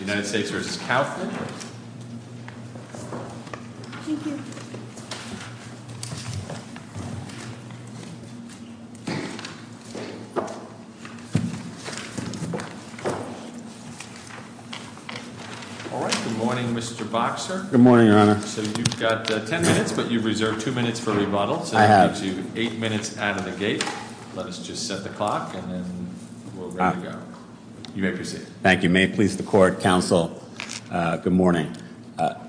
Good morning Mr. Boxer Good morning, your honor. So you've got ten minutes but you've reserved two minutes for rebuttal. I have. So you have eight minutes out of the gate. Let's just set the clock and then we'll let you go. You may proceed. Thank you. May it please the court, counsel, good morning.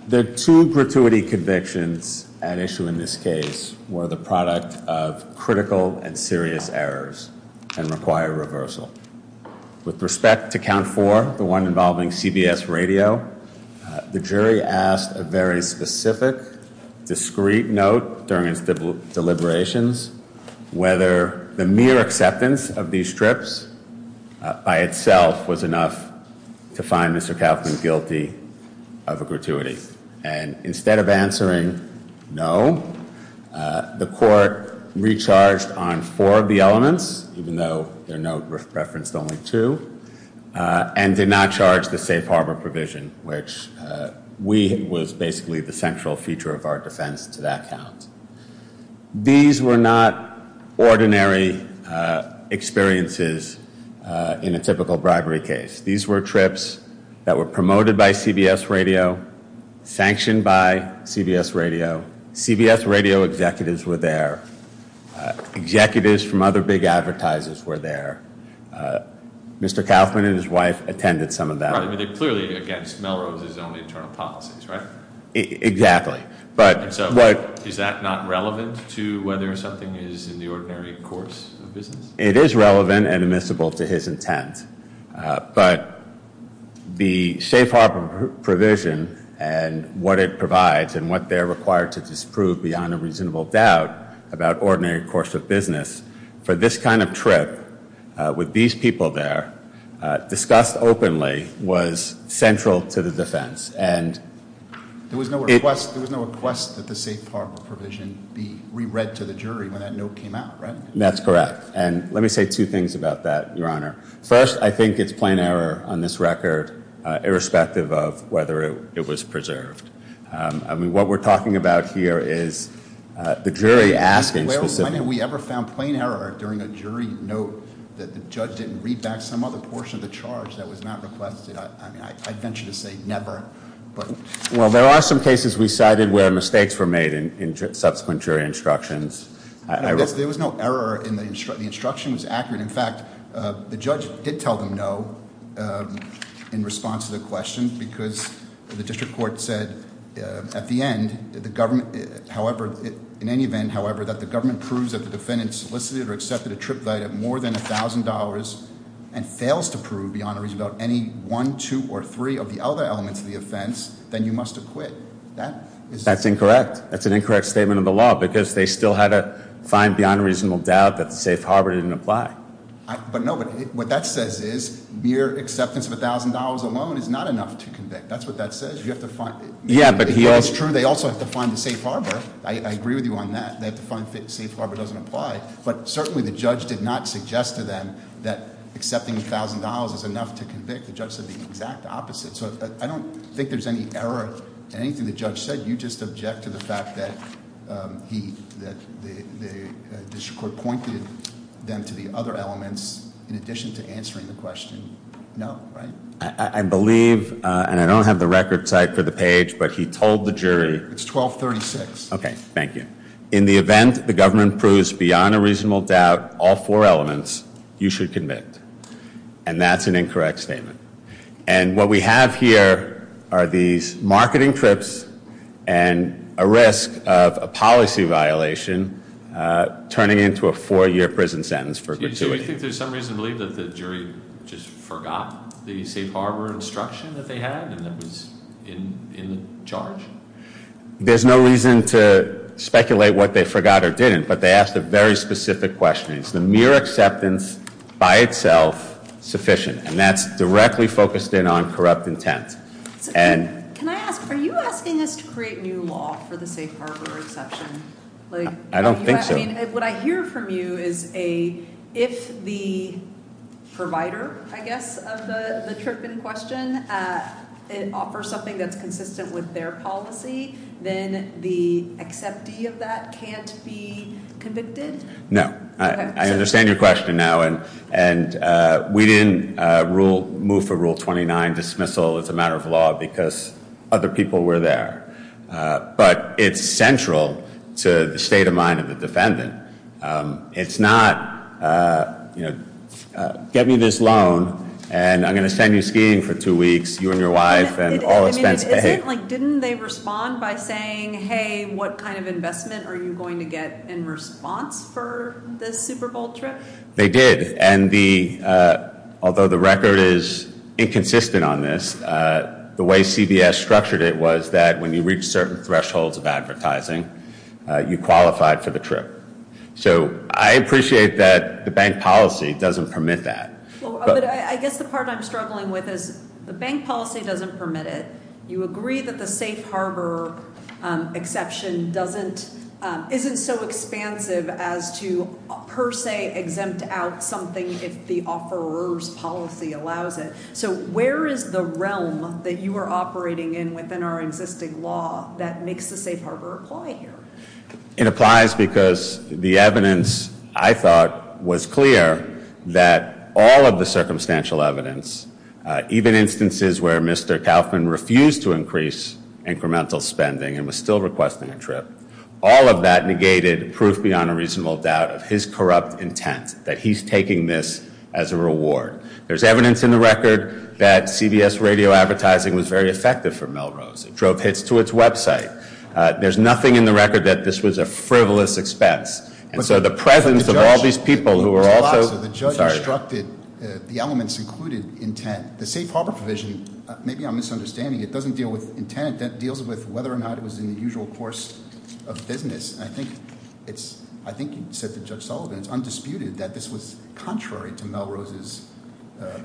The two gratuity convictions at issue in this case were the product of critical and serious errors and require reversal. With respect to count four, the one involving CBS radio, the jury asked a very specific, discreet note during its deliberations whether the mere acceptance of these strips by itself was enough to find Mr. Kaufman guilty of a gratuity. And instead of answering no, the court recharged on four of the elements, even though there are no reference to only two, and did not charge the safe harbor provision, which we believe was basically the central feature of our defense to that count. These were not ordinary experiences in a typical bribery case. These were trips that were promoted by CBS radio, sanctioned by CBS radio. CBS radio executives were there. Executives from other big advertisers were there. Mr. Kaufman and his wife attended some of them. They clearly are against Melrose's internal policies, right? Exactly. Is that not relevant to whether something is in the ordinary course of business? It is relevant and admissible to his intent. But the safe harbor provision and what it provides and what they're required to disprove beyond a reasonable doubt about ordinary course of business for this kind of trip with these people there, discussed openly, was central to the defense. There was no request that the safe harbor provision be re-read to the jury when that note came out, right? That's correct. And let me say two things about that, Your Honor. First, I think it's plain error on this record, irrespective of whether it was preserved. I mean, what we're talking about here is the jury asking— Well, there are some cases we cited where mistakes were made in subsequent jury instructions. There was no error in the instructions. In fact, the judge did tell them no in response to the question because the district court said at the end, in any event, however, that the government proves that the defendant solicited or accepted a trip guide of more than $1,000 and fails to prove beyond a reasonable doubt any one, two, or three of the other elements of the offense, then you must acquit. That is— That's incorrect. That's an incorrect statement of the law because they still had to find beyond a reasonable doubt that the safe harbor didn't apply. But no, what that says is mere acceptance of $1,000 alone is not enough to convict. That's what that says. You have to find— Yeah, but he— If that's true, they also have to find the safe harbor. I agree with you on that, that safe harbor doesn't apply. But certainly, the judge did not suggest to them that accepting $1,000 is enough to convict. The judge said the exact opposite. So I don't think there's any error in anything the judge said. You just object to the fact that the district court pointed them to the other elements in addition to answering the question. No, right? I believe, and I don't have the record type for the page, but he told the jury— It's 1236. Okay. Thank you. In the event the government proves beyond a reasonable doubt all four elements, you should commit. And that's an incorrect statement. And what we have here are these marketing trips and a risk of a policy violation turning into a four-year prison sentence for committing— Do you think there's some reason to believe that the jury just forgot the safe harbor instruction that they had and that was in charge? There's no reason to speculate what they forgot or didn't. But they asked a very specific question. Is the mere acceptance by itself sufficient? And that's directly focused in on corrupt intent. Can I ask, are you asking us to create new law for the safe harbor exception? I don't think so. What I hear from you is if the provider, I guess, of the trip in question offers something that's consistent with their policy, then the acceptee of that can't be convicted? No. I understand your question now, and we didn't move for Rule 29 dismissal as a matter of law because other people were there. But it's central to the state of mind of the defendant. It's not, you know, get me this loan, and I'm going to send you skiing for two weeks, you and your wife, and all of that. Didn't they respond by saying, hey, what kind of investment are you going to get in response for the Super Bowl trip? They did. And although the record is inconsistent on this, the way CBS structured it was that when you reach certain thresholds of advertising, you qualified for the trip. So I appreciate that the bank policy doesn't permit that. I guess the part I'm struggling with is the bank policy doesn't permit it. You agree that the safe harbor exception isn't so expansive as to per se exempt out something if the offeror's policy allows it. So where is the realm that you are operating in within our existing law that makes the safe harbor apply here? It applies because the evidence, I thought, was clear that all of the circumstantial evidence, even instances where Mr. Kaufman refused to increase incremental spending and was still requesting a trip, all of that negated proof beyond a reasonable doubt of his corrupt intent that he's taking this as a reward. There's evidence in the record that CBS radio advertising was very effective for Melrose. It drove hits to its website. There's nothing in the record that this was a frivolous expense. And so the presence of all these people who were also... The judge instructed that the elements included intent. The safe harbor provision, maybe I'm misunderstanding, it doesn't deal with intent. It deals with whether or not it was in the usual course of business. I think you said to Judge Sullivan, it's undisputed, that this was contrary to Melrose's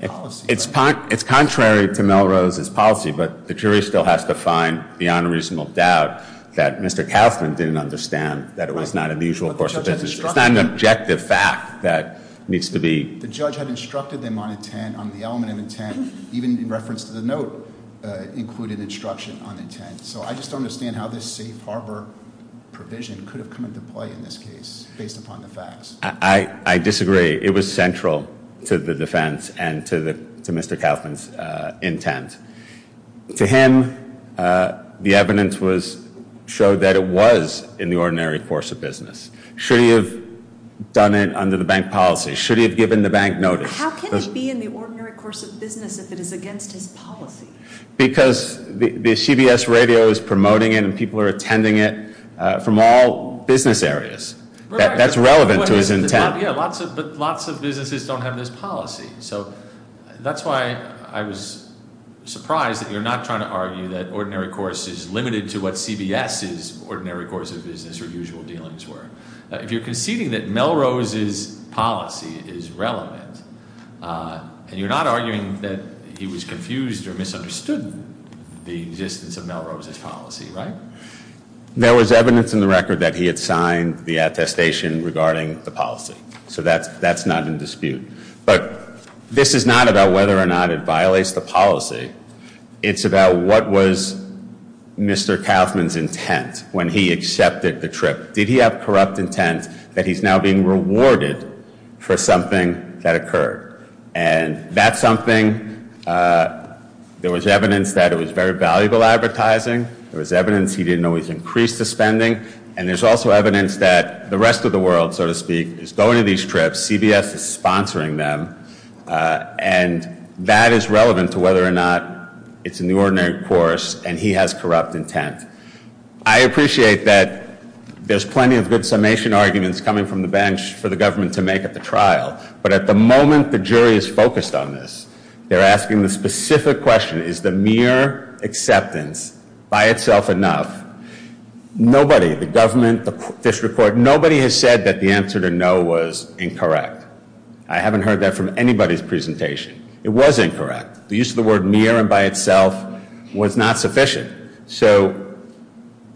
policy. It's contrary to Melrose's policy, but the jury still has to find beyond a reasonable doubt that Mr. Kaufman didn't understand that it was not in the usual course of business. It's not an objective fact that needs to be... The judge had instructed him on the element of intent, even in reference to the note, included instruction on intent. So I just don't understand how this safe harbor provision could have come into play in this case, based upon the facts. I disagree. It was central to the defense and to Mr. Kaufman's intent. To him, the evidence showed that it was in the ordinary course of business. Should he have done it under the bank policy? Should he have given the bank notice? How can it be in the ordinary course of business if it is against his policy? Because the CBS radio is promoting it and people are attending it from all business areas. That's relevant to his intent. But lots of businesses don't have this policy. So that's why I was surprised that you're not trying to argue that ordinary course is limited to what CBS's ordinary course of business or usual dealings were. You're conceding that Melrose's policy is relevant, and you're not arguing that he was confused or misunderstood the existence of Melrose's policy, right? There was evidence in the record that he had signed the attestation regarding the policy. So that's not in dispute. But this is not about whether or not it violates the policy. It's about what was Mr. Kaufman's intent when he accepted the trip. Did he have corrupt intent that he's now being rewarded for something that occurred? And that's something there was evidence that it was very valuable advertising. There was evidence he didn't always increase the spending. And there's also evidence that the rest of the world, so to speak, is going to these trips. CBS is sponsoring them. And that is relevant to whether or not it's an ordinary course and he has corrupt intent. I appreciate that there's plenty of good summation arguments coming from the bench for the government to make at the trial. But at the moment the jury is focused on this. They're asking the specific question. Is the mere acceptance by itself enough? Nobody, the government, the district court, nobody has said that the answer to no was incorrect. I haven't heard that from anybody's presentation. It was incorrect. The use of the word mere and by itself was not sufficient. So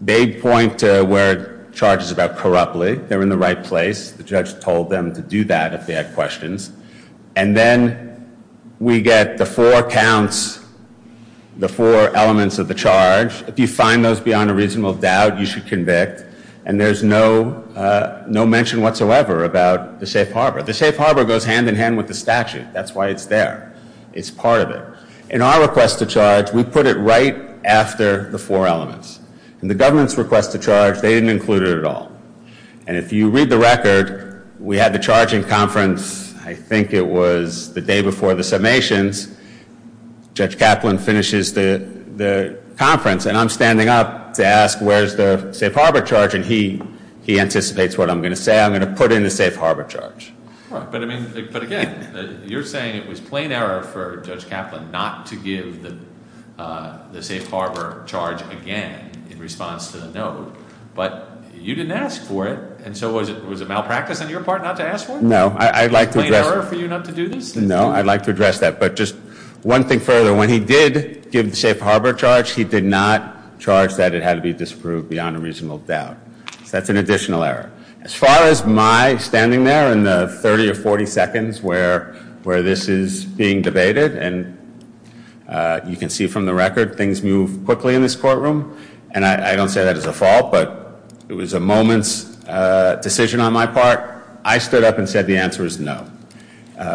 they point to where charges about corruptly. They're in the right place. The judge told them to do that if they had questions. And then we get the four counts, the four elements of the charge. If you find those beyond a reasonable doubt, you should convict. And there's no mention whatsoever about the safe harbor. The safe harbor goes hand in hand with the statute. That's why it's there. It's part of it. In our request to charge, we put it right after the four elements. In the government's request to charge, they didn't include it at all. And if you read the record, we had the charging conference, I think it was the day before the summations. Judge Kaplan finishes the conference, and I'm standing up to ask where's the safe harbor charge, and he anticipates what I'm going to say. I'm going to put in the safe harbor charge. But, again, you're saying it was plain error for Judge Kaplan not to give the safe harbor charge again in response to the no. But you didn't ask for it, and so was it malpractice on your part not to ask for it? No. Was it plain error for you not to do this? No. I'd like to address that. But just one thing further, when he did give the safe harbor charge, he did not charge that it had to be disproved beyond a reasonable doubt. That's an additional error. As far as my standing there in the 30 or 40 seconds where this is being debated, and you can see from the record things move quickly in this courtroom, and I don't say that as a fault, but it was a moment's decision on my part. I stood up and said the answer is no.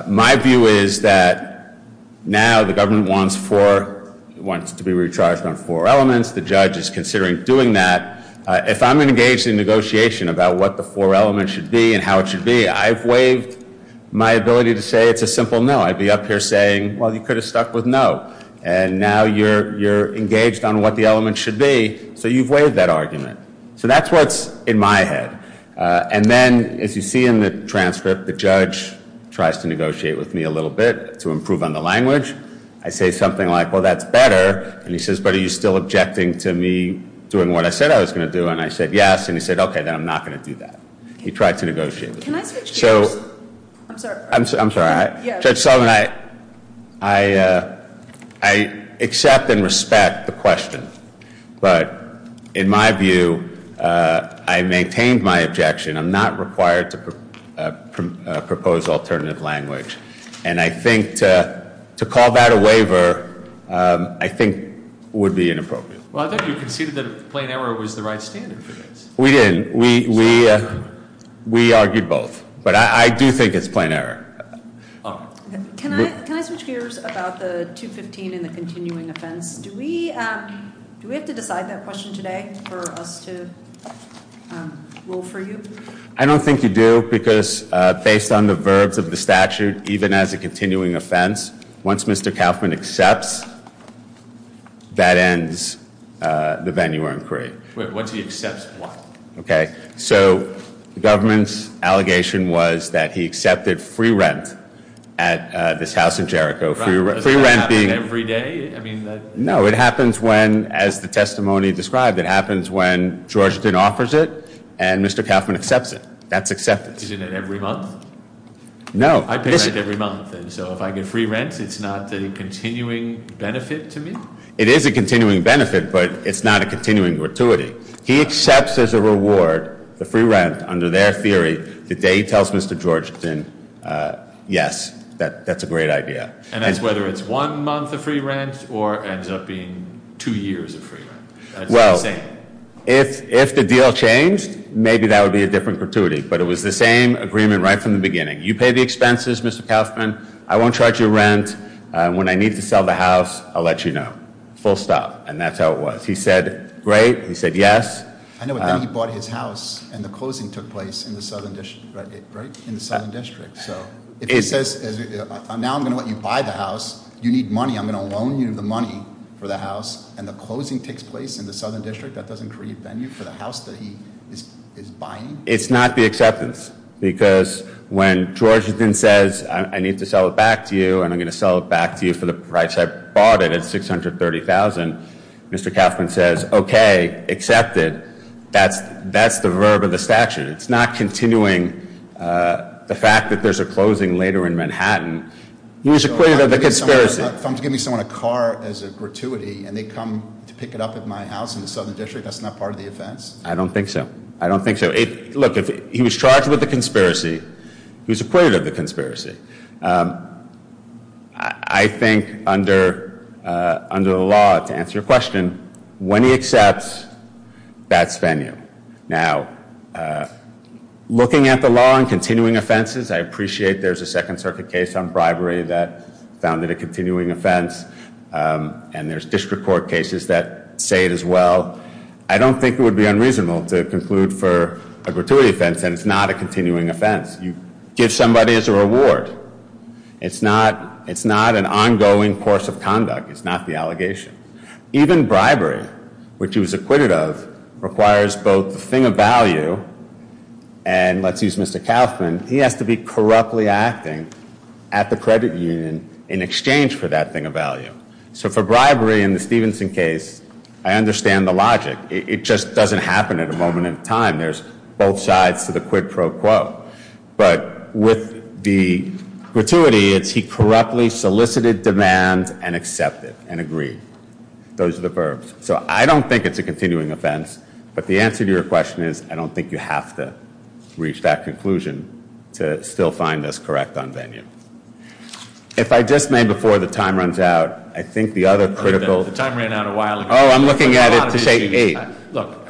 My view is that now the government wants to be retried from four elements. The judge is considering doing that. If I'm engaged in negotiation about what the four elements should be and how it should be, I've waived my ability to say it's a simple no. I'd be up here saying, well, you could have stuck with no. And now you're engaged on what the elements should be, so you've waived that argument. So that's what's in my head. And then, as you see in the transcript, the judge tries to negotiate with me a little bit to improve on the language. I say something like, well, that's better. And he says, but are you still objecting to me doing what I said I was going to do? And I said yes. And he said, okay, then I'm not going to do that. He tried to negotiate with me. I'm sorry. Judge Sullivan, I accept and respect the question. But in my view, I maintained my objection. I'm not required to propose alternative language. And I think to call that a waiver, I think, would be inappropriate. Well, I thought you conceded that plain error was the right standard. We didn't. We argued both. But I do think it's plain error. Can I ask you about the 215 and the continuing offense? Do we have to decide that question today for us to rule for you? I don't think you do, because based on the verbs of the statute, even as a continuing offense, once Mr. Kauffman accepts, that ends the venue or inquiry. Wait, once he accepts what? Okay, so the government's allegation was that he accepted free rent at this house in Jericho. Does that happen every day? No, it happens when, as the testimony described, it happens when Georgetown offers it, and Mr. Kauffman accepts it. That's accepted. Isn't it every month? No. I pay it every month. And so if I get free rent, it's not the continuing benefit to me? It is a continuing benefit, but it's not a continuing gratuity. He accepts as a reward the free rent under their theory. The day he tells Mr. Georgetown, yes, that's a great idea. And that's whether it's one month of free rent or ends up being two years of free rent? Well, if the deal changed, maybe that would be a different gratuity. But it was the same agreement right from the beginning. You pay the expenses, Mr. Kauffman. I won't charge you rent. When I need to sell the house, I'll let you know. Full stop. And that's how it was. He said, great. He said, yes. I know, but then he bought his house, and the closing took place in the southern district. So now I'm going to let you buy the house. You need money. I'm going to loan you the money for the house, and the closing takes place in the southern district. That doesn't create venue for the house that he is buying? It's not the acceptance. Because when Georgetown says, I need to sell it back to you, and I'm going to sell it back to you for the price I bought it at $630,000, Mr. Kauffman says, okay, accept it. That's the verb of the statute. It's not continuing the fact that there's a closing later in Manhattan. He was acquitted of the conspiracy. If I'm giving someone a car as a gratuity, and they come to pick it up at my house in the southern district, that's not part of the offense? I don't think so. I don't think so. Look, he was charged with a conspiracy. He was acquitted of the conspiracy. I think under the law, to answer your question, when he accepts, that's venue. Now, looking at the law and continuing offenses, I appreciate there's a Second Circuit case on bribery that found it a continuing offense, and there's district court cases that say it as well. I don't think it would be unreasonable to conclude for a gratuity offense that it's not a continuing offense. You give somebody as a reward. It's not an ongoing course of conduct. It's not the allegation. Even bribery, which he was acquitted of, requires both the thing of value, and let's use Mr. Kauffman, he has to be corruptly acting at the credit union in exchange for that thing of value. So for bribery in the Stevenson case, I understand the logic. It just doesn't happen at a moment in time. There's both sides to the quid pro quo. But with the gratuity, it's he correctly solicited demand and accepted and agreed. Those are the verbs. So I don't think it's a continuing offense, but the answer to your question is I don't think you have to reach that conclusion to still find this correct on venue. If I just may, before the time runs out, I think the other critical The time ran out a while ago. Oh, I'm looking at it to save me. Look,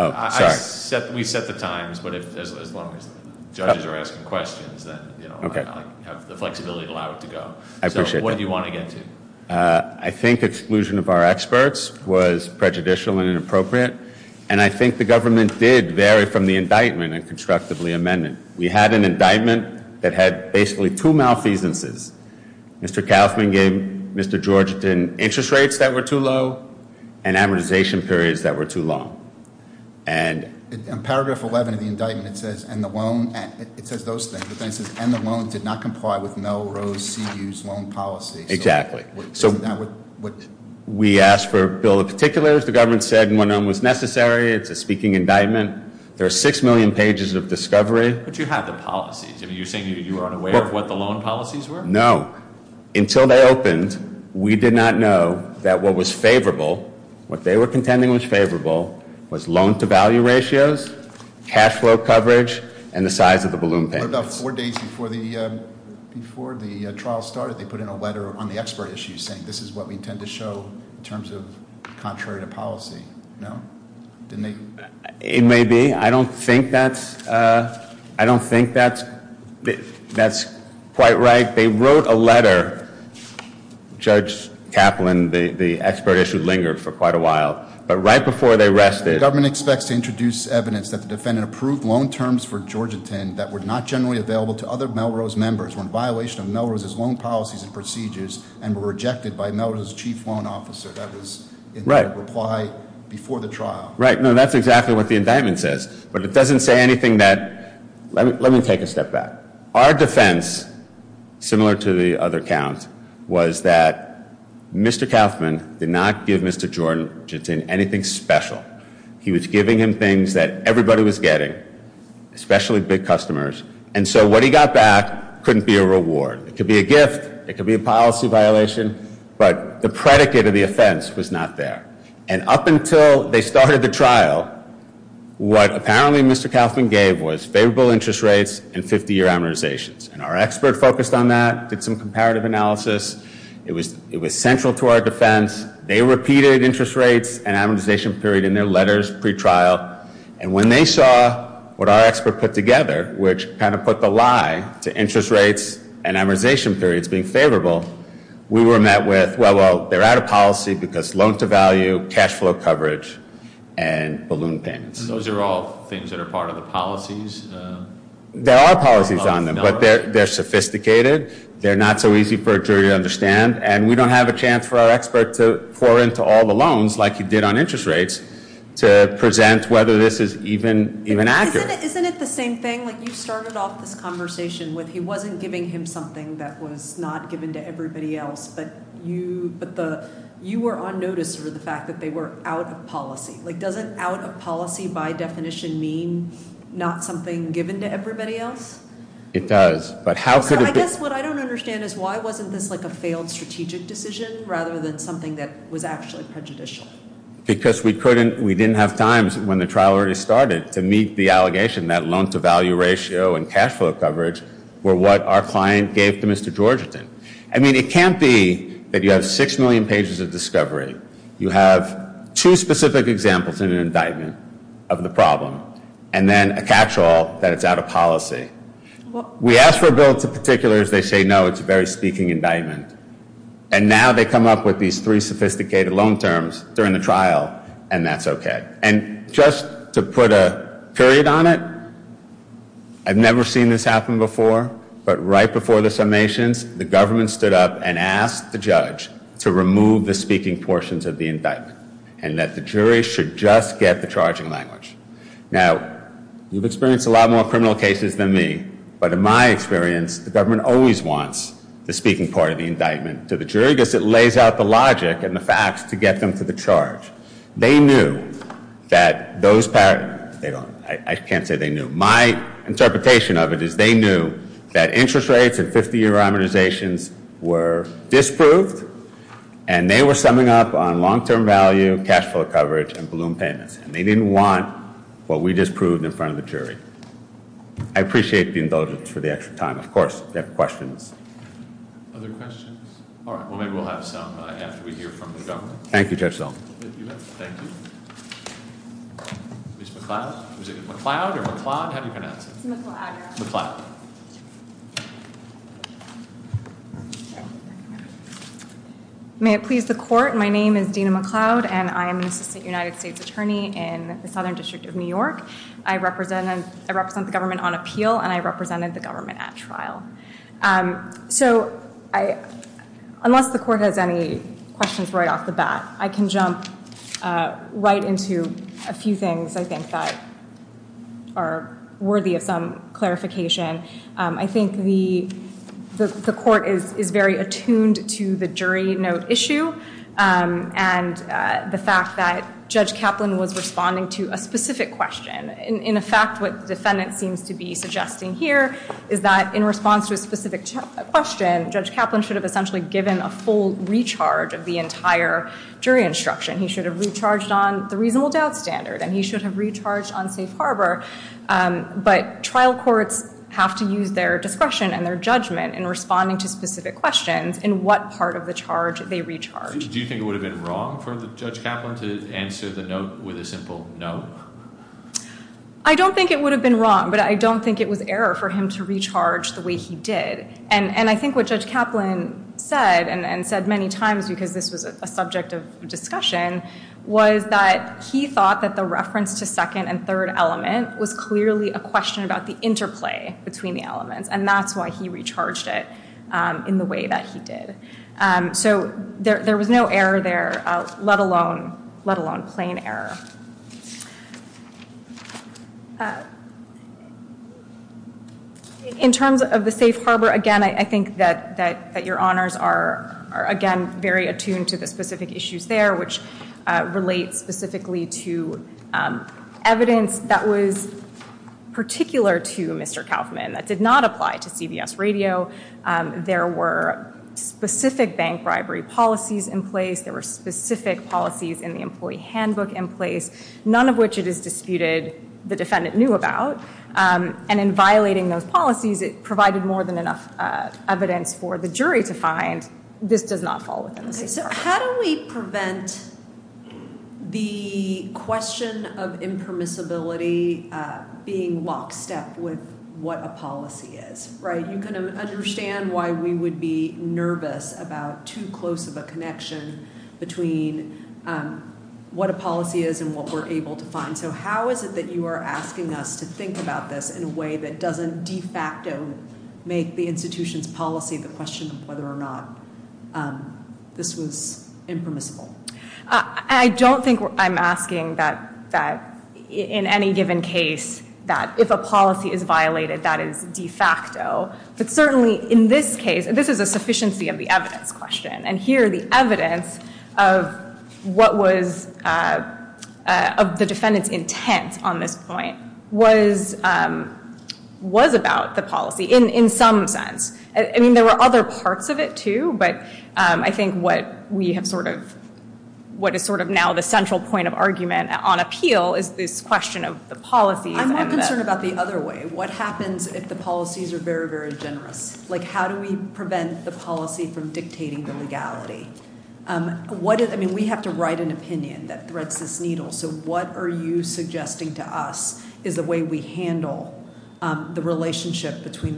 we've set the times, but as long as judges are asking questions, then I'll have the flexibility to allow it to go. I appreciate that. So what do you want to get to? I think exclusion of our experts was prejudicial and inappropriate, and I think the government did vary from the indictment and constructively amendment. We had an indictment that had basically two malfeasances. Mr. Kaufman gave Mr. George interest rates that were too low and amortization periods that were too long. And in paragraph 11 of the indictment, it says those things. It says, and the loan did not comply with Melrose CEU's loan policy. Exactly. So we asked for a bill of particulars. The government said one of them was necessary. It's a speaking indictment. There are six million pages of discovery. But you have the policies. Are you saying you aren't aware of what the loan policies were? No. Until they opened, we did not know that what was favorable, what they were contending was favorable, was loan-to-value ratios, cash flow coverage, and the size of the balloon bank. About four days before the trial started, they put in a letter on the expert issues, saying this is what we intend to show in terms of contrary to policy. No? It may be. I don't think that's quite right. They wrote a letter. Judge Kaplan, the expert issue lingered for quite a while. But right before they rested. The government expects to introduce evidence that the defendant approved loan terms for Georgentine that were not generally available to other Melrose members on violation of Melrose's loan policies and procedures and were rejected by Melrose's chief loan officer. That was in the reply before the trial. Right. No, that's exactly what the indictment says. But it doesn't say anything that... Let me take a step back. Our defense, similar to the other counts, was that Mr. Kaplan did not give Mr. Georgentine anything special. He was giving him things that everybody was getting, especially big customers. It could be a gift. It could be a policy violation. But the predicate of the offense was not there. And up until they started the trial, what apparently Mr. Kaplan gave was favorable interest rates and 50-year amortizations. And our expert focused on that, did some comparative analysis. It was central to our defense. They repeated interest rates and amortization period in their letters pretrial. And when they saw what our expert put together, which kind of put the lie to interest rates and amortization periods being favorable, we were met with, well, they're out of policy because loan to value, cash flow coverage, and balloon payments. Those are all things that are part of the policies? There are policies on them, but they're sophisticated. They're not so easy for a jury to understand. And we don't have a chance for our expert to pour in for all the loans like you did on interest rates to present whether this is even accurate. Isn't it the same thing? Like, you started off this conversation with he wasn't giving him something that was not given to everybody else, but you were on notice for the fact that they were out of policy. Like, doesn't out of policy by definition mean not something given to everybody else? It does. I guess what I don't understand is why wasn't this like a failed strategic decision rather than something that was actually prejudicial? Because we didn't have time when the trial already started to meet the allegation that loan to value ratio and cash flow coverage were what our client gave to Mr. Georgeton. I mean, it can't be that you have 6 million pages of discovery, you have two specific examples in an indictment of the problem, and then a catch-all that it's out of policy. We ask for bills to particulars, they say no, it's a very speaking indictment. And now they come up with these three sophisticated loan terms during the trial, and that's okay. And just to put a period on it, I've never seen this happen before, but right before the summations the government stood up and asked the judge to remove the speaking portions of the indictment and that the jury should just get the charging language. Now, you've experienced a lot more criminal cases than me, but in my experience the government always wants the speaking part of the indictment to the jury because it lays out the logic and the facts to get them to the charge. They knew that those, I can't say they knew, my interpretation of it is they knew that interest rates in 50-year organizations were disproved, and they were summing up on long-term value, cash flow coverage, and balloon payments. And they didn't want what we disproved in front of the jury. I appreciate the indulgence for the extra time. Of course, if you have questions. Other questions? All right. Well, then we'll have a stop by after we hear from the government. Thank you, Judge Sobel. Thank you. Thank you. Ms. McLeod? How do you pronounce it? McLeod. McLeod. May it please the court, my name is Dina McLeod, and I am the United States Attorney in the Southern District of New York. I represent the government on appeal, and I represented the government at trial. So, unless the court has any questions right off the bat, I can jump right into a few things I think that are worthy of some clarification. I think the court is very attuned to the jury note issue and the fact that Judge Kaplan was responding to a specific question. In effect, what the defendant seems to be suggesting here is that in response to a specific question, Judge Kaplan should have essentially given a full recharge of the entire jury instruction. He should have recharged on the reasonable doubt standard, and he should have recharged on safe harbor. But trial courts have to use their discretion and their judgment in responding to specific questions in what part of the charge they recharge. Do you think it would have been wrong for Judge Kaplan to answer the note with a simple no? I don't think it would have been wrong, but I don't think it was error for him to recharge the way he did. And I think what Judge Kaplan said, and said many times because this was a subject of discussion, was that he thought that the reference to second and third element was clearly a question about the interplay between the elements, and that's why he recharged it in the way that he did. So there was no error there, let alone plain error. In terms of the safe harbor, again, I think that your honors are, again, very attuned to the specific issues there, which relate specifically to evidence that was particular to Mr. Kaplan that did not apply to CBS radio. There were specific bank bribery policies in place. There were specific policies in the employee handbook in place, none of which it is disputed the defendant knew about. And in violating those policies, it provided more than enough evidence for the jury to find that this does not fall within the framework. So how do we prevent the question of impermissibility being lockstep with what a policy is? You can understand why we would be nervous about too close of a connection between what a policy is and what we're able to find. So how is it that you are asking us to think about this in a way that doesn't de facto make the institution's policy the question of whether or not this was impermissible? I don't think I'm asking that in any given case that if a policy is violated, that is de facto. But certainly in this case, this is a sufficiency of the evidence question. And here, the evidence of the defendant's intent on this point was about the policy in some sense. I mean, there were other parts of it too, but I think what is sort of now the central point of argument on appeal is this question of the policy. I'm more concerned about the other way. What happens if the policies are very, very general? Like, how do we prevent the policy from dictating the legality? I mean, we have to write an opinion that threads this needle. So what are you suggesting to us is a way we handle the relationship between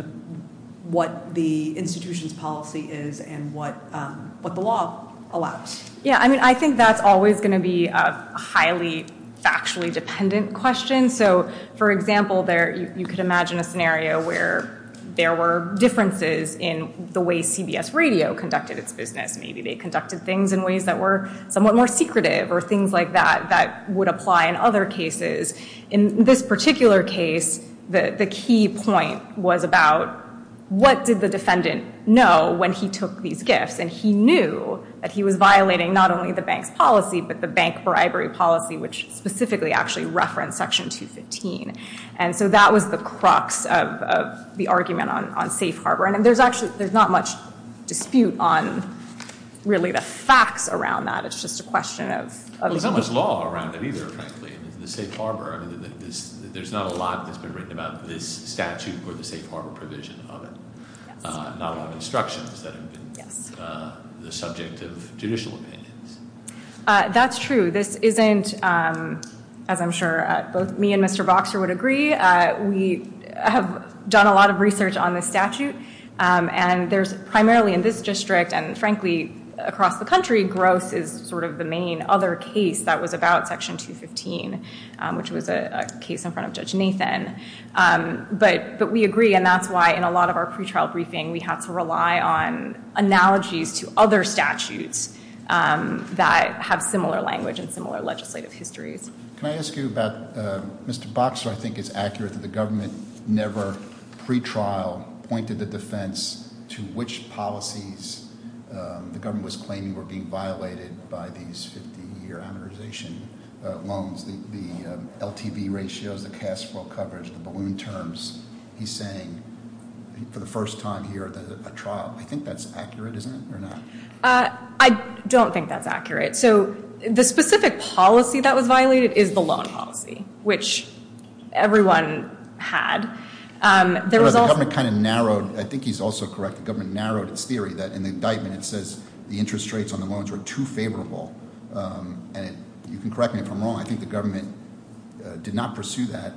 what the institution's policy is and what the law allows? Yeah, I mean, I think that's always going to be a highly factually dependent question. So, for example, you could imagine a scenario where there were differences in the way CBS radio conducted its business. Maybe they conducted things in ways that were somewhat more secretive or things like that that would apply in other cases. In this particular case, the key point was about what did the defendant know when he took these gifts? And he knew that he was violating not only the bank's policy, but the bank bribery policy, which specifically actually referenced Section 215. And so that was the crux of the argument on safe harbor. And there's actually not much dispute on, really, the facts around that. It's just a question of- There's not much law around that either. The safe harbor, I mean, there's not a lot that's been written about this statute or the safe harbor provision on it. Not on instructions, but the subject of judicial opinion. That's true. This isn't, as I'm sure both me and Mr. Boxer would agree, we have done a lot of research on this statute. And there's primarily in this district and, frankly, across the country, gross is sort of the main other case that was about Section 215, which was a case in front of Judge Nathan. But we agree, and that's why in a lot of our pre-trial briefing, we have to rely on analogies to other statutes that have similar language and similar legislative histories. Can I ask you about- Mr. Boxer, I think it's accurate that the government never, pre-trial, pointed the defense to which policies the government was claiming were being violated by these 15-year hundredization loans. The LTV ratio, the cash flow coverage, the balloon terms. He's saying for the first time here at the trial. I think that's accurate, isn't it, or not? I don't think that's accurate. So the specific policy that was violated is the loan policy, which everyone had. The government kind of narrowed, I think he's also correct, the government narrowed the theory that an indictment says the interest rates on the loans are too favorable. You can correct me if I'm wrong. I think the government did not pursue that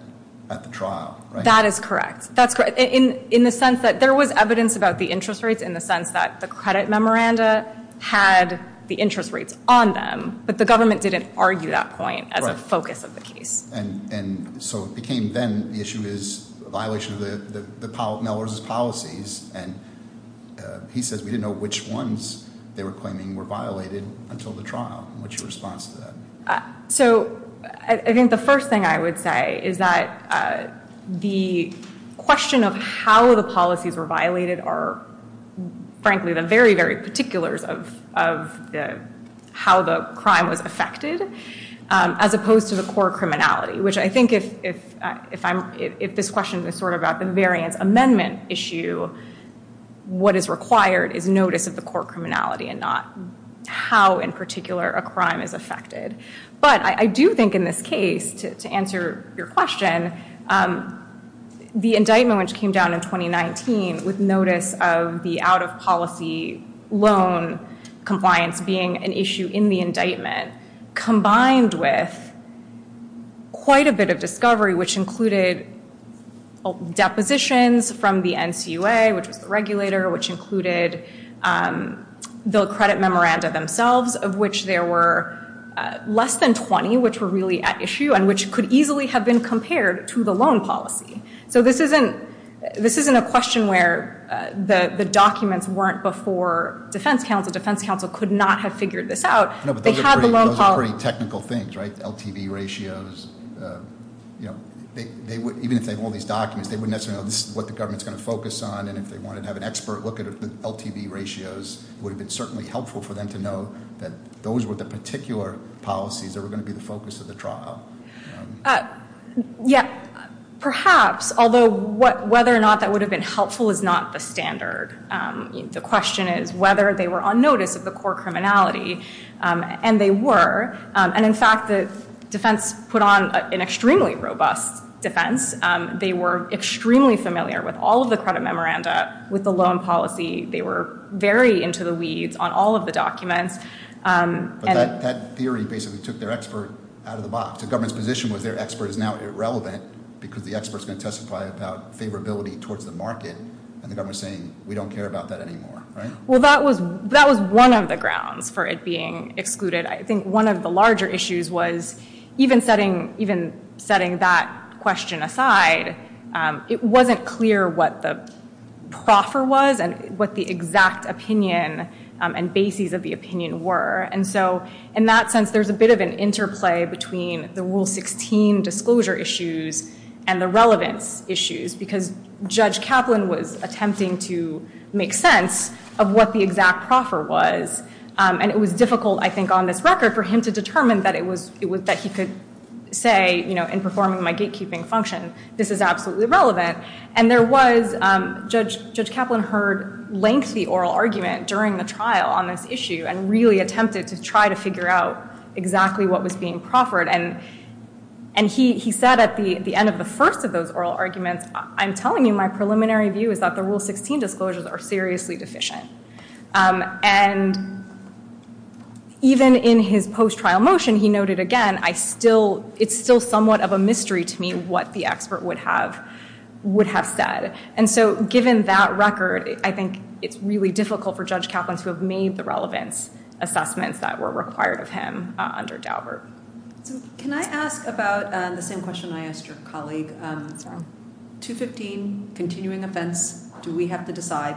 at the trial. That is correct. That's right. In the sense that there was evidence about the interest rates in the sense that the credit memoranda had the interest rates on them, but the government didn't argue that point at the focus of the case. So it became then the issue is violations of the Nellers' policies, and he says we didn't know which ones they were claiming were violated until the trial. What's your response to that? So I think the first thing I would say is that the question of how the policies were violated are, frankly, the very, very particulars of how the crime was affected, as opposed to the core criminality, which I think if this question is sort of about the variant amendment issue, what is required is notice of the core criminality and not how, in particular, a crime is affected. But I do think in this case, to answer your question, the indictment, which came down in 2019, with notice of the out-of-policy loan compliance being an issue in the indictment, combined with quite a bit of discovery, which included depositions from the NCUA, which was the regulator, which included the credit memoranda themselves, of which there were less than 20, which were really at issue, and which could easily have been compared to the loan policy. So this isn't a question where the documents weren't before defense counsel. Defense counsel could not have figured this out. They had the loan policy. Those are pretty technical things, right? LTV ratios. Even if they have all these documents, they wouldn't necessarily know what the government is going to focus on, and if they wanted to have an expert look at LTV ratios, it would have been certainly helpful for them to know that those were the particular policies that were going to be the focus of the trial. Yes, perhaps. Although whether or not that would have been helpful is not the standard. The question is whether they were on notice of the core criminality, and they were. And in fact, the defense put on an extremely robust defense. They were extremely familiar with all of the credit memoranda, with the loan policy. They were very into the weeds on all of the documents. But that theory basically took their expert out of the box. The government's position with their expert is now irrelevant because the expert is going to testify about favorability towards the market, and the government is saying we don't care about that anymore, right? Well, that was one of the grounds for it being excluded. I think one of the larger issues was even setting that question aside, it wasn't clear what the proffer was, and what the exact opinion and bases of the opinion were. And so in that sense, there's a bit of an interplay between the Rule 16 disclosure issues and the relevant issues, because Judge Kaplan was attempting to make sense of what the exact proffer was. And it was difficult, I think, on this record for him to determine that he could say, you know, I've been performing my gatekeeping functions, this is absolutely relevant. And there was, Judge Kaplan heard lengthy oral argument during the trial on this issue, and really attempted to try to figure out exactly what was being proffered. And he said at the end of the first of those oral arguments, I'm telling you my preliminary view is that the Rule 16 disclosures are seriously deficient. And even in his post-trial motion, he noted again, it's still somewhat of a mystery to me what the expert would have said. And so given that record, I think it's really difficult for Judge Kaplan to have made the relevant assessments that were required of him under Daubert. Can I ask about the same question I asked your colleague? 215, continuing offense, do we have to decide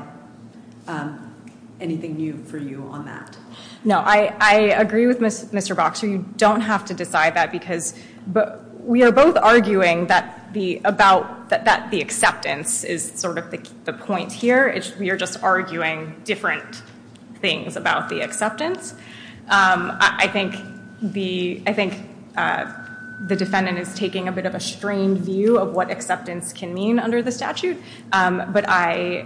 anything new for you on that? No, I agree with Mr. Boxer. We don't have to decide that because, but we are both arguing that the acceptance is sort of the point here. We are just arguing different things about the acceptance. I think the defendant is taking a bit of a strained view of what acceptance can mean under the statute. But I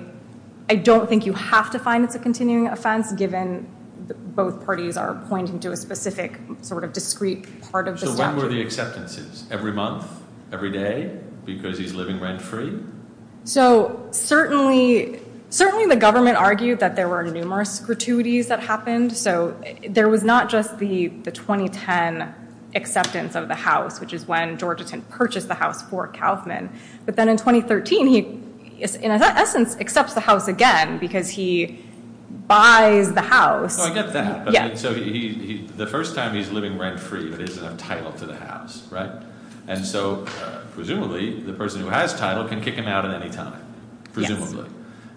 don't think you have to find that the continuing offense, given both parties are pointing to a specific sort of discreet part of the law. Every month, every day, because he's living rent free. So certainly, certainly the government argued that there were numerous gratuities that happened. So there was not just the 2010 acceptance of the house, which is when Georgia can purchase the house for Kaufman. But then in 2013, he, in essence, accepts the house again because he buys the house. I get that. So the first time he's living rent free, it is entitled to the house. Right. And so presumably the person who has title can kick him out at any time. Presumably.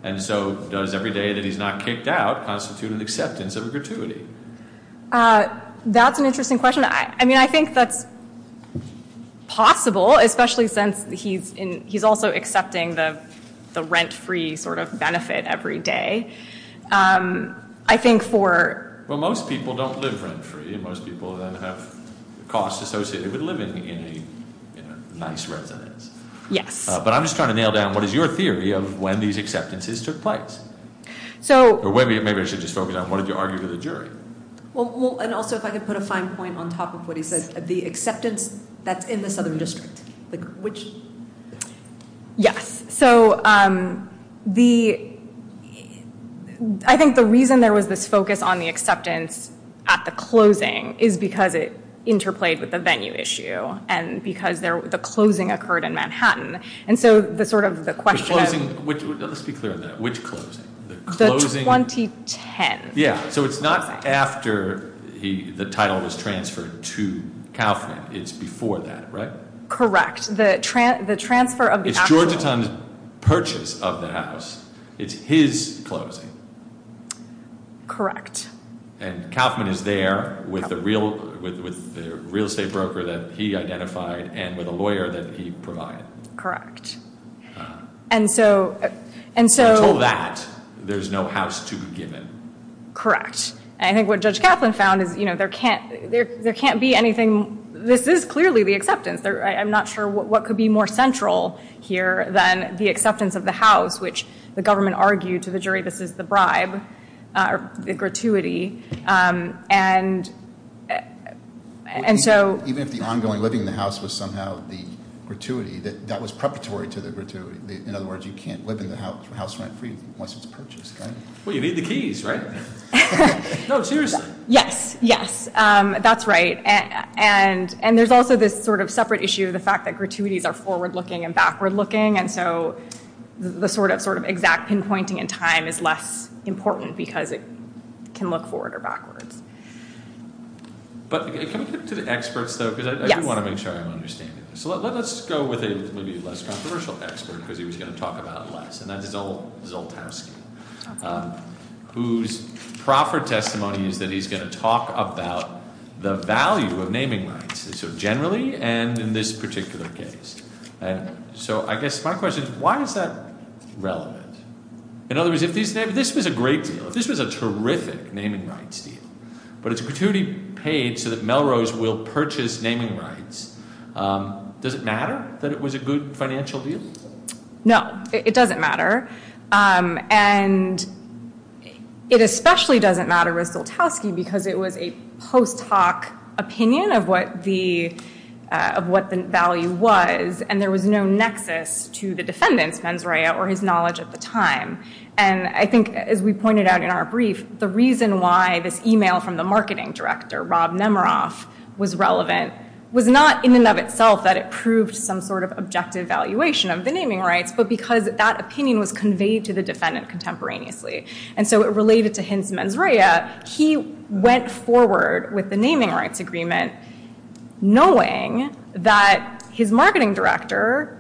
And so does every day that he's not kicked out constitute an acceptance of a gratuity? That's an interesting question. I mean, I think that's possible, especially since he's also accepting the rent free sort of benefit every day. I think for. Well, most people don't live rent free. Most people don't have costs associated with living in a nice residence. Yes. But I'm just trying to nail down, what is your theory of when these acceptances took place? So. Maybe you should just focus on what did you argue to the jury? Well, and also if I could put a fine point on top of what he said, the acceptance that's in the southern district, which. Yes. So the, I think the reason there was this focus on the acceptance at the closing is because it interplayed with the venue issue and because the closing occurred in Manhattan. And so the sort of the question. Let's be clear on that. Which closing? The 2010. Yeah. Correct. So it's not after he, the title was transferred to Kaufman. It's before that, right? Correct. The trans, the transfer of the purchase of the house. It's his closing. Correct. And Kaufman is there with the real, with the real estate broker that he identified and with a lawyer that he provided. Correct. And so, and so there's no house to begin. Correct. And I think what judge Kaplan found is, you know, there can't, there can't be anything. This is clearly the acceptance there. I'm not sure what could be more central here than the acceptance of the house, which the government argued to the jury, this is the bribe, the gratuity. And. And so. Even if the ongoing living in the house was somehow the gratuity that that was preparatory to the gratuity. In other words, you can't live in the house, the house went free once it's purchased. Well, you need the keys, right? No, seriously. Yes. Yes. That's right. And, and there's also this sort of separate issue of the fact that gratuities are forward looking and backward looking. And so the sort of, sort of exact pinpointing in time is less important because it can look forward or backward. But. To the experts, though, because I do want to make sure I understand. So let's go with it. And. Whose proper testimony is that he's going to talk about the value of naming rights. So generally, and in this particular case. And so I guess my question is, why is that relevant? In other words, if these, this was a great deal, this was a terrific naming rights deal, but it's a gratuity paid so that Melrose will purchase naming rights. Does it matter that it was a good deal? No, it doesn't matter. And. It especially doesn't matter. Because it was a post hoc opinion of what the, of what the value was. And there was no nexus to the defendant. Or his knowledge at the time. And I think as we pointed out in our brief, the reason why this email from the marketing director, Was not in and of itself that it proved some sort of objective value. It wasn't a valuation of the naming rights, but because that opinion was conveyed to the defendant contemporaneously. And so it related to him. He went forward with the naming rights agreement. Knowing that his marketing director.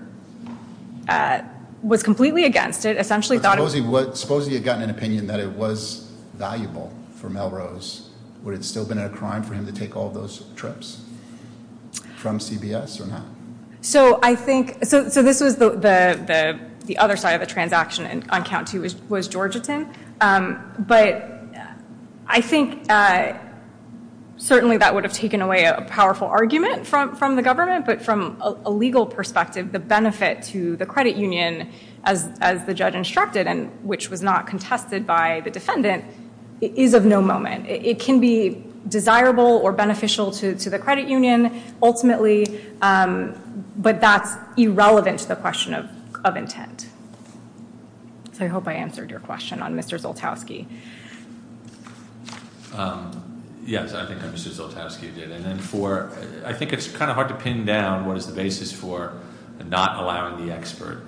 Was completely against it. Essentially thought it was supposed to get an opinion that it was valuable for Melrose. Where it's still been a crime for him to take all those trips. From CBS or not. So I think, so, so this is the, the, the other side of the transaction on count two was, was Georgetown. But I think. Certainly that would have taken away a powerful argument from, from the government, but from a legal perspective, the benefit to the credit union as, as the judge instructed, and which was not contested by the defendant. It is of no moment. It can be desirable or beneficial to, to the credit union ultimately. But that's irrelevant to the question of, of intent. So I hope I answered your question on Mr. Zoltowsky. Yes. I think it's kind of hard to pin down. What is the basis for not allowing the expert.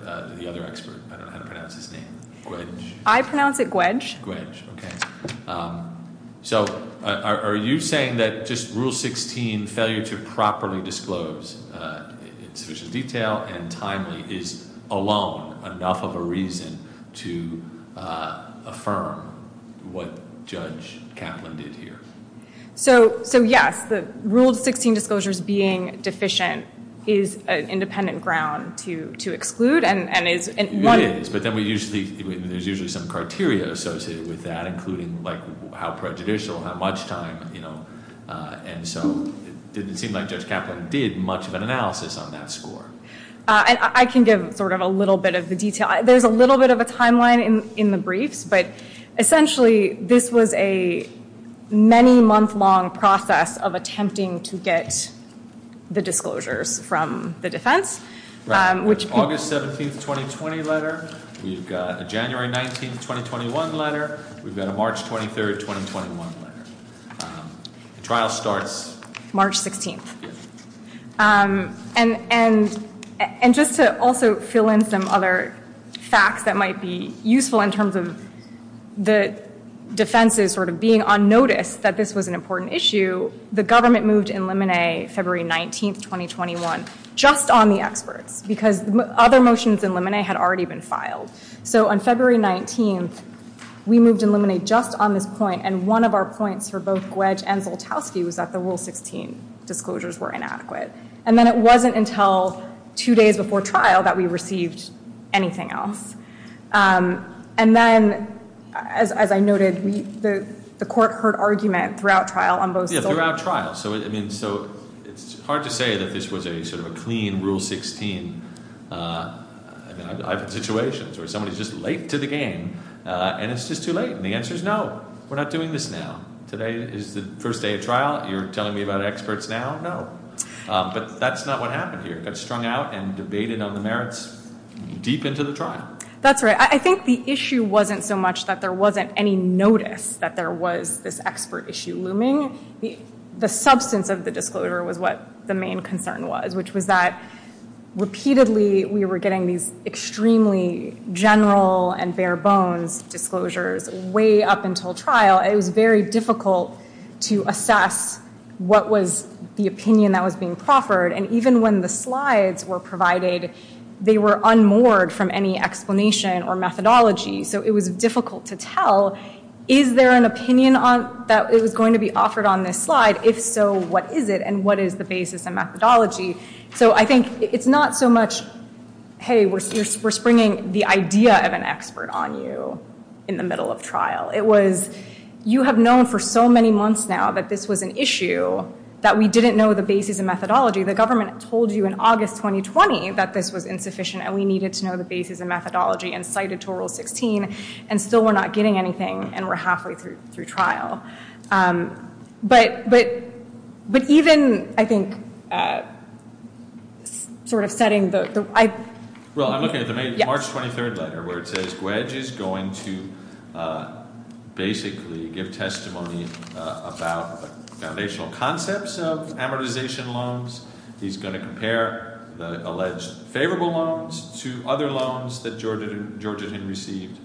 I pronounce it. Wedge. Okay. So are you saying that just rule 16 failure to properly disclose. Detail and timely is alone enough of a reason to. Affirm. What judge. So, so yes, the rule 16 disclosures being deficient. Is an independent ground to, to exclude and, and. But then we used to be, there's usually some criteria associated with that, including like how prejudicial, how much time, you know? And so it didn't seem like just Catholic did much of an analysis on that score. And I can give sort of a little bit of the detail. There's a little bit of a timeline in, in the brief, but essentially this was a. Many month long process of attempting to get the disclosures from the defense, which August 17th, 2020 letter. You've got the January 19th, 2021 letter. We've got a March 23rd, 2021. Trial starts March 16th. And, and, and just to also fill in some other facts that might be useful in terms of. The defense is sort of being on notice that this was an important issue. So the government moved in limine February 19th, 2021, just on the expert. Because other motions in limine had already been filed. So on February 19th, we moved in limine just on this point. And one of our points for both Wedge and Boltowski was that the rule 16 disclosures were inadequate. And then it wasn't until two days before trial that we received anything else. And then, as I noted, the court heard argument throughout trial on both. Throughout trial. So, I mean, so it's hard to say that this was a sort of a clean rule 16. Situations where somebody's just late to the game and it's just too late. And the answer is no, we're not doing this now. Today is the first day of trial. You're telling me about experts now. No, but that's not what happened here. I think the issue wasn't so much that there wasn't any notice that there was this expert issue looming. The substance of the disclosure was what the main concern was, which was that repeatedly we were getting these extremely general and bare bones disclosures way up until trial. It was very difficult to assess what was the opinion that was being proffered. And even when the slides were provided, they were unmoored from any explanation or methodology. So it was difficult to tell. Is there an opinion that was going to be offered on this slide? If so, what is it and what is the basis and methodology? So I think it's not so much, hey, we're bringing the idea of an expert on you in the middle of trial. It was, you have known for so many months now that this was an issue that we didn't know the basis and methodology. The government told you in August 2020 that this was insufficient and we needed to know the basis and methodology and cited to Rule 16. And so we're not getting anything and we're halfway through trial. But even, I think, sort of setting the... Well, I'm looking at the March 23rd letter where it says Wedge is going to basically give testimony about foundational concepts of amortization loans. He's going to compare the alleged favorable loans to other loans that Georgetown received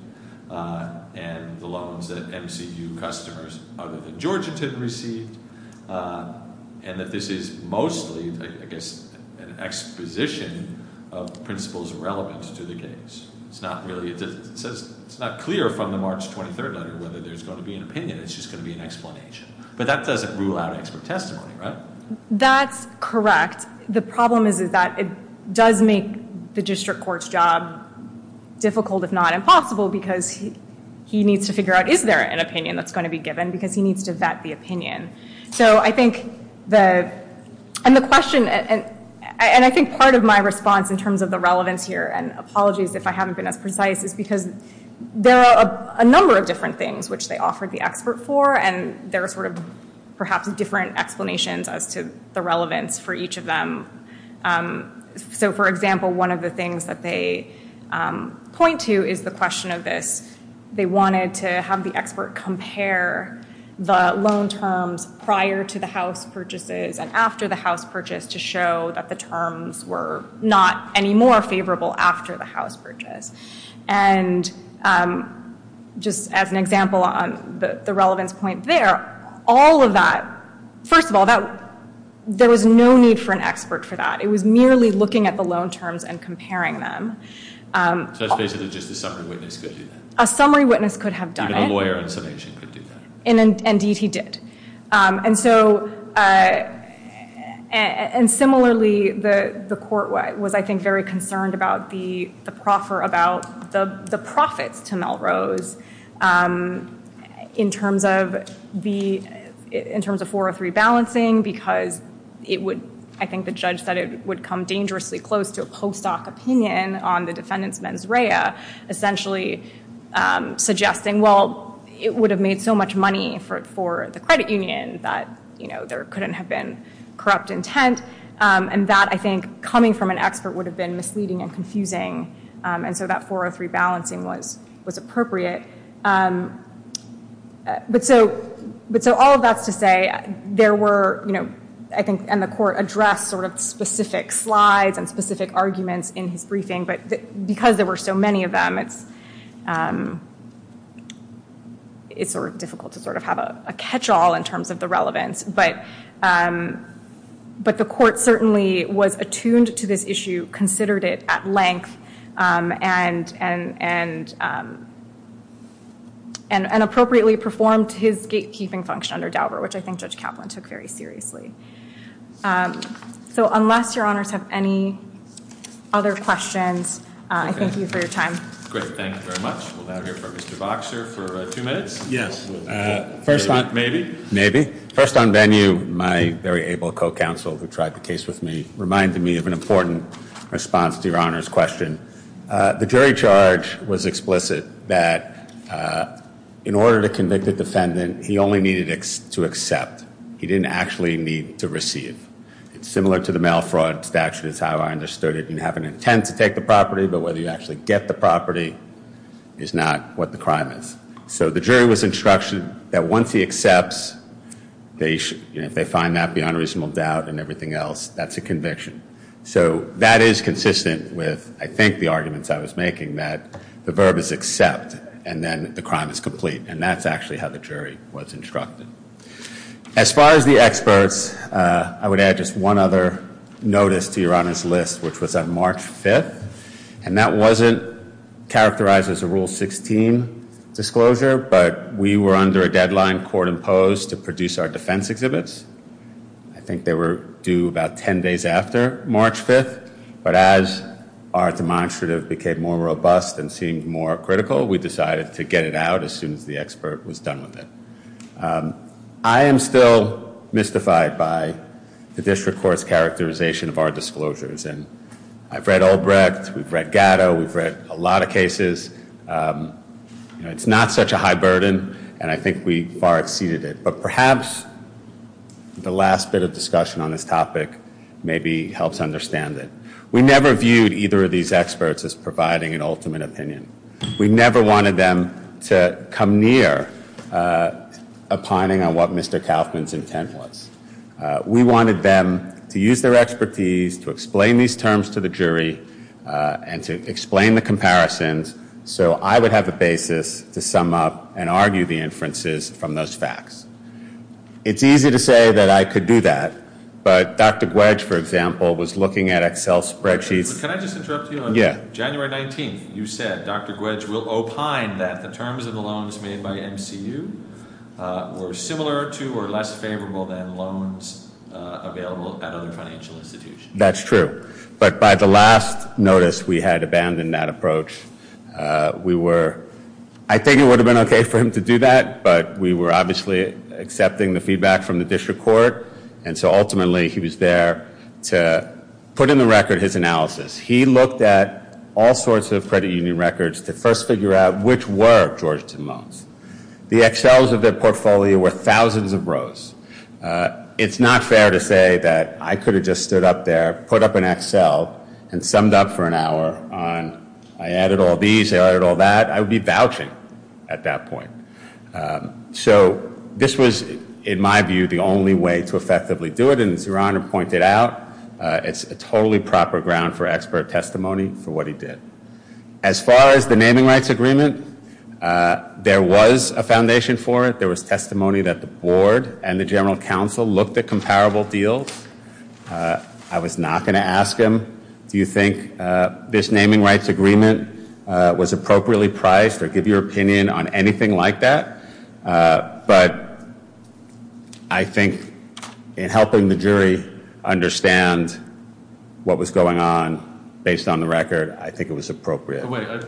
and the loans that MCU customers other than Georgetown received. And that this is mostly, I guess, an exposition of principles and relevance to the case. It's not clear from the March 23rd letter whether there's going to be an opinion. It's just going to be an explanation. But that doesn't rule out expert testimony, right? That's correct. The problem is that it does make the district court's job difficult, if not impossible, because he needs to figure out is there an opinion that's going to be given because he needs to vet the opinion. So I think the... And the question... And I think part of my response in terms of the relevance here, and apologies if I haven't been as precise, is because there are a number of different things which they offered the expert for and there are sort of perhaps different explanations as to the relevance for each of them. So, for example, one of the things that they point to is the question of this. They wanted to have the expert compare the loan terms prior to the house purchases and after the house purchase to show that the terms were not any more favorable after the house purchase. And just as an example on the relevance point there, all of that... First of all, there was no need for an expert for that. It was merely looking at the loan terms and comparing them. So it's basically just a summary witness could do that? A summary witness could have done it. Even a lawyer could do that. Indeed, he did. And so... And similarly, the court was, I think, very concerned about the profits to Melrose in terms of 403 balancing because it would... Essentially suggesting, well, it would have made so much money for the credit union that there couldn't have been corrupt intent. And that, I think, coming from an expert would have been misleading and confusing. And so that 403 balancing was appropriate. But so all of that to say, there were, I think, and the court addressed sort of specific slides and specific arguments in his briefing. But because there were so many of them, it's sort of difficult to sort of have a catch-all in terms of the relevance. But the court certainly was attuned to this issue, considered it at length, and appropriately performed his gatekeeping function under Dauber, which I think Judge Kaplan took very seriously. So unless your honors have any other questions, I thank you for your time. Great. Thank you very much. We'll have Mr. Boxer for two minutes? Yes. Maybe? Maybe. First on venue, my very able co-counsel who tried the case with me reminded me of an important response to your honors' question. The jury charge was explicit that in order to convict a defendant, he only needed to accept. He didn't actually need to receive. Similar to the mail fraud statute is how I understood it. You have an intent to take the property, but whether you actually get the property is not what the crime is. So the jury was instructed that once he accepts, they find out the unreasonable doubt and everything else. That's a conviction. So that is consistent with, I think, the arguments I was making, that the verb is accept, and then the crime is complete. And that's actually how the jury was instructed. As far as the experts, I would add just one other notice to your honors' list, which was on March 5th. And that wasn't characterized as a Rule 16 disclosure, but we were under a deadline, court imposed, to produce our defense exhibits. I think they were due about 10 days after March 5th. But as our demonstrative became more robust and seemed more critical, we decided to get it out as soon as the expert was done with it. I am still mystified by the district court's characterization of our disclosures. And I've read Olbrecht, we've read Gatto, we've read a lot of cases. It's not such a high burden, and I think we far exceeded it. But perhaps the last bit of discussion on this topic maybe helps understand it. We never viewed either of these experts as providing an ultimate opinion. We never wanted them to come near opining on what Mr. Tafton's intent was. We wanted them to use their expertise to explain these terms to the jury and to explain the comparisons, so I would have a basis to sum up and argue the inferences from those facts. It's easy to say that I could do that, but Dr. Gwedge, for example, was looking at Excel spreadsheets. January 19th, you said Dr. Gwedge will opine that the terms of the loans made by MCU were similar to or less favorable than loans available at other financial institutions. That's true. But by the last notice, we had abandoned that approach. I think it would have been okay for him to do that, but we were obviously accepting the feedback from the district court, and so ultimately he was there to put in the record his analysis. He looked at all sorts of credit union records to first figure out which were Georgetown loans. The Excels of their portfolio were thousands of rows. It's not fair to say that I could have just stood up there, put up an Excel, and summed up for an hour on, I added all these, I added all that. I would be vouching at that point. So this was, in my view, the only way to effectively do it, and as Your Honor pointed out, it's a totally proper ground for expert testimony for what he did. As far as the naming rights agreement, there was a foundation for it. There was testimony that the board and the general counsel looked at comparable deals. I was not going to ask him, do you think this naming rights agreement was appropriately priced, or give your opinion on anything like that, but I think in helping the jury understand what was going on, based on the record, I think it was appropriate. Wait, I don't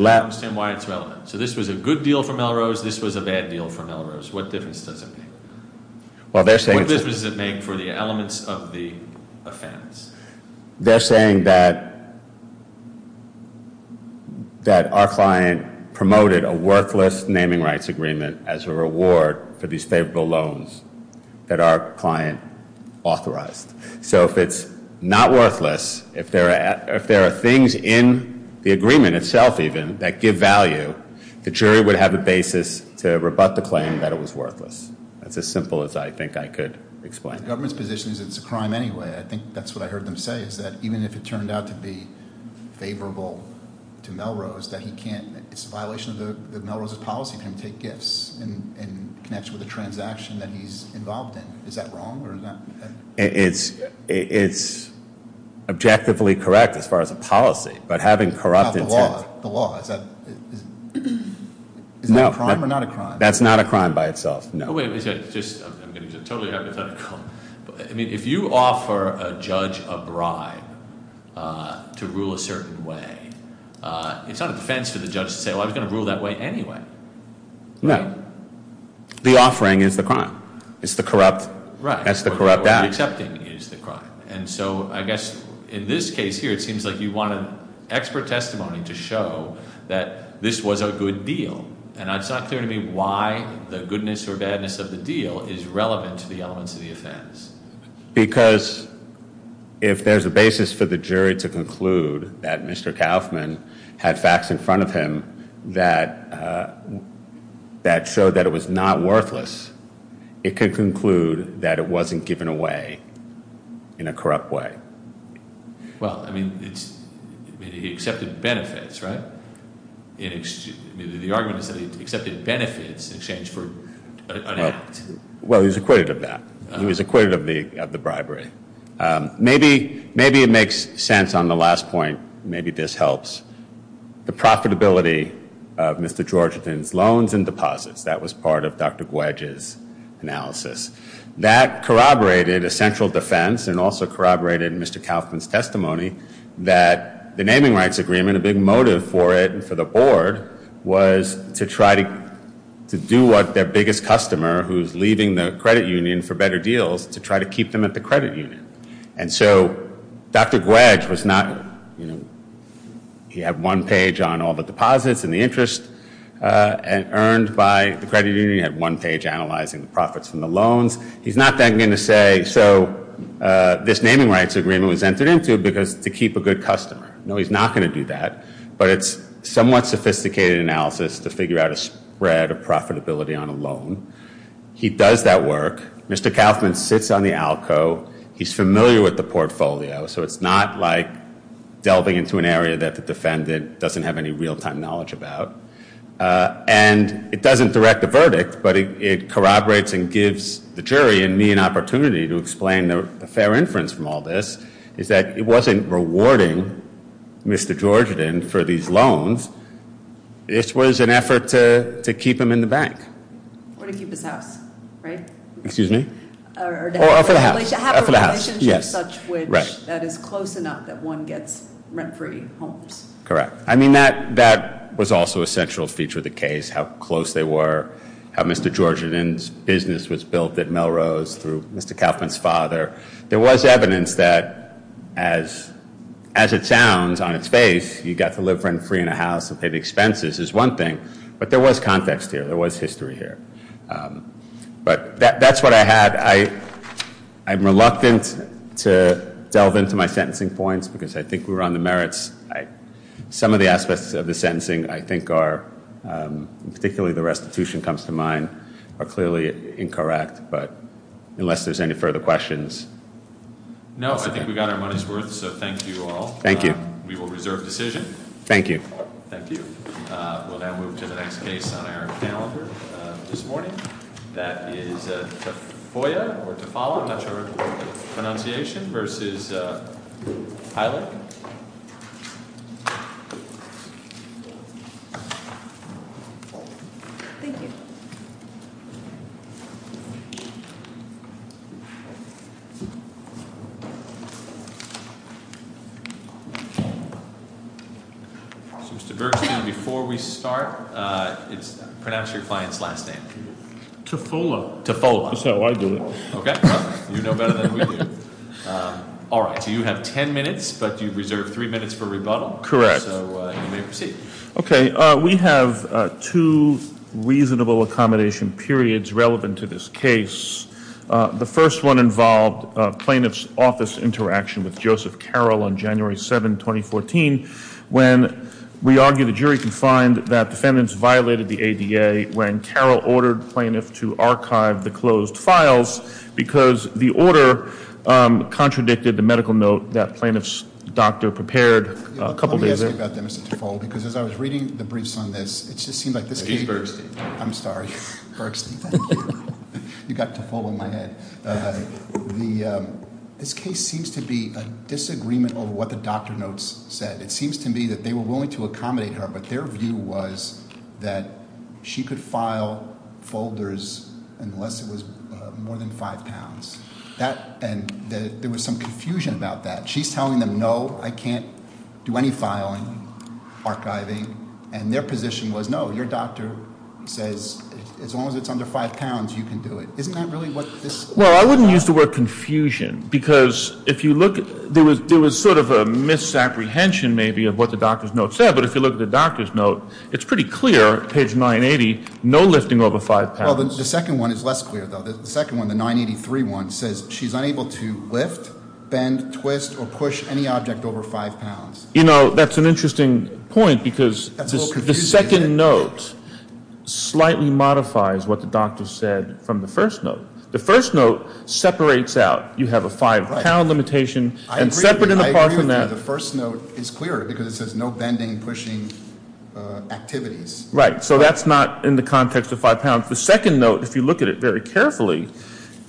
understand why it's relevant. So this was a good deal for Melrose, this was a bad deal for Melrose. What difference does it make? What difference does it make for the elements of the offense? They're saying that our client promoted a worthless naming rights agreement as a reward for these favorable loans that our client authorized. So if it's not worthless, if there are things in the agreement itself, even, that give value, the jury would have a basis to rebut the claim that it was worthless. It's as simple as I think I could explain it. The government's position is that it's a crime anyway. I think that's what I heard them say, is that even if it turned out to be favorable to Melrose, it's a violation of Melrose's policy to take gifts and connects with a transaction that he's involved in. Is that wrong? It's objectively correct as far as a policy, but having corrupted... The law, is that a crime or not a crime? That's not a crime by itself. No, wait, I'm going to totally have to cut it. I mean, if you offer a judge a bribe to rule a certain way, it's not a defense to the judge to say, well, I was going to rule that way anyway. No. The offering is the crime. It's the corrupt act. Right. The accepting is the crime. And so I guess in this case here, it seems like you want an extra testimony to show that this was a good deal. And it's not clear to me why the goodness or badness of the deal is relevant to the elements of the offense. Because if there's a basis for the jury to conclude that Mr. Kauffman had facts in front of him that showed that it was not worthless, it could conclude that it wasn't given away in a corrupt way. Well, I mean, it accepted benefits, right? Well, he was acquitted of that. He was acquitted of the bribery. Maybe it makes sense on the last point, maybe this helps. The profitability of Mr. Georgetown's loans and deposits, that was part of Dr. Gwedge's analysis. That corroborated a central defense and also corroborated Mr. Kauffman's testimony that the naming rights agreement, a big motive for it and for the board, was to try to do what their biggest customer, who's leaving the credit union for better deals, to try to keep them at the credit union. And so Dr. Gwedge, he had one page on all the deposits and the interest earned by the credit union. He had one page analyzing the profits from the loans. He's not then going to say, so this naming rights agreement was entered into to keep a good customer. No, he's not going to do that. But it's somewhat sophisticated analysis to figure out a spread of profitability on a loan. He does that work. Mr. Kauffman sits on the ALCO. He's familiar with the portfolio, so it's not like delving into an area that the defendant doesn't have any real-time knowledge about. And it doesn't direct the verdict, but it corroborates and gives the jury and me an opportunity to explain a fair inference from all this, is that it wasn't rewarding Mr. Georgian for these loans. This was an effort to keep them in the bank. Or to keep them out, right? Excuse me? Or out of the house. That is close enough that one gets rent-free homes. Correct. I mean, that was also a central feature of the case, how close they were, how Mr. Georgian's business was built at Melrose through Mr. Kauffman's father. There was evidence that, as it sounds on its face, you got to live rent-free in a house and pay the expenses is one thing. But there was context here. There was history here. But that's what I had. I'm reluctant to delve into my sentencing points because I think we were on the merits. Some of the aspects of the sentencing I think are, particularly the restitution comes to mind, are clearly incorrect, but unless there's any further questions... No, I think we got our money's worth, so thank you all. Thank you. We will reserve the decision. Thank you. Thank you. We'll now move to the next case on our calendar this morning. That is Tafoya, or Tafala, I'm not sure if that's the right pronunciation, versus Hyland. Thank you. Mr. Berkey, before we start, pronounce your client's last name. Tafola. That's how I do it. Okay. You're no better than we are. All right. So you have ten minutes, but you've reserved three minutes for rebuttal. Okay. We have two reasonable accommodations for you. One is that you have the right to remain silent, The first one involved plaintiff's office interaction with Joseph Carroll on January 7, 2014, when we argue the jury confined that the defendants violated the ADA when Carroll ordered plaintiff to archive the closed files because the order contradicted the medical note that plaintiff's doctor prepared a couple days ago. Let me ask you about that, Mr. Tafola, because as I was reading the briefs on this, it just seemed like this case... I'm sorry, Berkson. You got Tafola in my head. This case seems to be a disagreement over what the doctor notes said. It seems to me that they were willing to accommodate her, but their view was that she could file folders unless it was more than five pounds. There was some confusion about that. She's telling them, no, I can't do any filing, archiving, and their position was, no, your doctor says as long as it's under five pounds, you can do it. Isn't that really what this... Well, I wouldn't use the word confusion, because if you look, there was sort of a misapprehension maybe of what the doctor's note said, but if you look at the doctor's note, it's pretty clear, page 980, no lifting over five pounds. Well, the second one is less clear, though. The second one, the 983 one, says she's unable to lift, bend, twist, or push any object over five pounds. You know, that's an interesting point, because the second note slightly modifies what the doctor said from the first note. The first note separates out. You have a five-pound limitation. I agree with you. The first note is clearer, because it says no bending, pushing activities. Right, so that's not in the context of five pounds. The second note, if you look at it very carefully,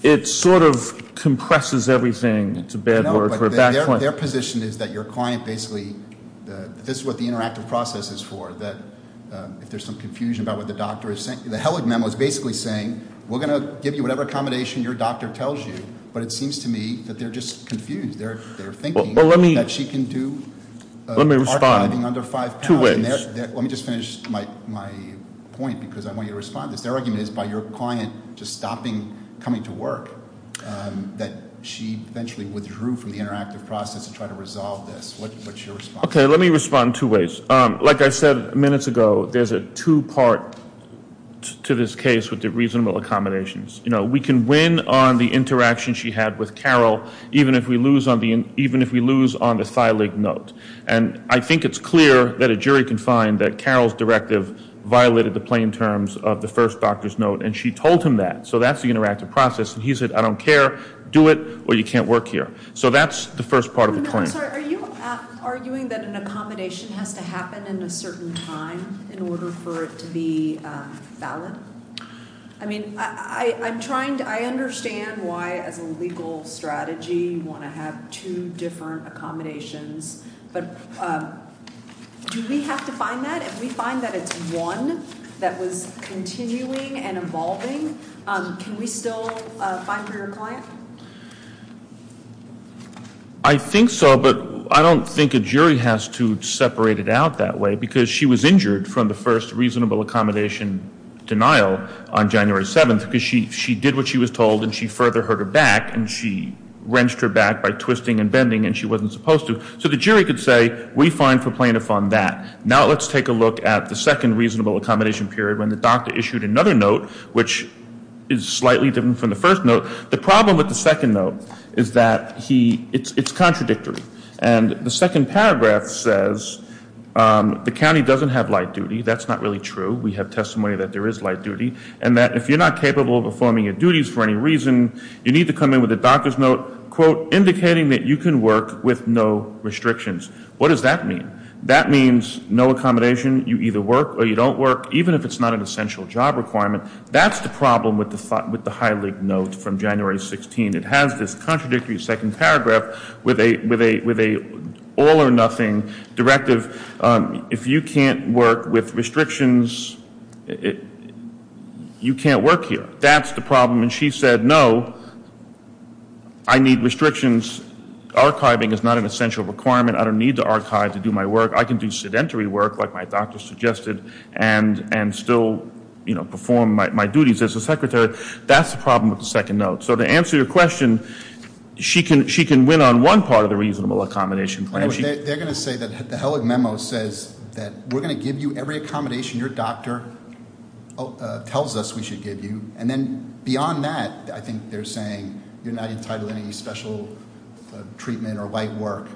it sort of compresses everything. No, but their position is that your client basically, this is what the interactive process is for, that there's some confusion about what the doctor is saying. The Hewlett memo is basically saying, we're going to give you whatever accommodation your doctor tells you, but it seems to me that they're just confused. They're thinking that she can do archiving under five pounds. Let me just finish my point, because I want you to respond. Their argument is by your client just stopping coming to work, that she eventually withdrew from the interactive process to try to resolve this. What's your response? Okay, let me respond in two ways. Like I said minutes ago, there's a two-part to this case with the reasonable accommodations. We can win on the interaction she had with Carol, even if we lose on the thylake note. I think it's clear that a jury can find that Carol's directive violated the plain terms of the first doctor's note, and she told him that. So that's the interactive process. He said, I don't care, do it, or you can't work here. So that's the first part of the point. Are you arguing that an accommodation has to happen in a certain time in order for it to be valid? I mean, I understand why as a legal strategy you want to have two different accommodations, but do we have to find that? If we find that it's one that is continuing and evolving, can we still find her complaint? I think so, but I don't think a jury has to separate it out that way, because she was injured from the first reasonable accommodation denial on January 7th, because she did what she was told and she further hurt her back, and she wrenched her back by twisting and bending, and she wasn't supposed to. So the jury could say, we find complaint upon that. Now let's take a look at the second reasonable accommodation period when the doctor issued another note, which is slightly different from the first note. The problem with the second note is that it's contradictory. And the second paragraph says, the county doesn't have light duty. That's not really true. We have testimony that there is light duty, and that if you're not capable of performing your duties for any reason, you need to come in with a doctor's note, quote, indicating that you can work with no restrictions. What does that mean? That means no accommodation. You either work or you don't work, even if it's not an essential job requirement. That's the problem with the High League note from January 16th. It has this contradictory second paragraph with an all or nothing directive. If you can't work with restrictions, you can't work here. That's the problem. And she said, no, I need restrictions. Archiving is not an essential requirement. I don't need to archive to do my work. I can do sedentary work like my doctor suggested and still perform my duties as a secretary. That's the problem with the second note. So to answer your question, she can win on one part of the reasonable accommodation. They're going to say that the Hellig Memo says that we're going to give you every accommodation your doctor tells us we should give you. And then beyond that, I think they're saying you're not entitled to any special treatment or light work.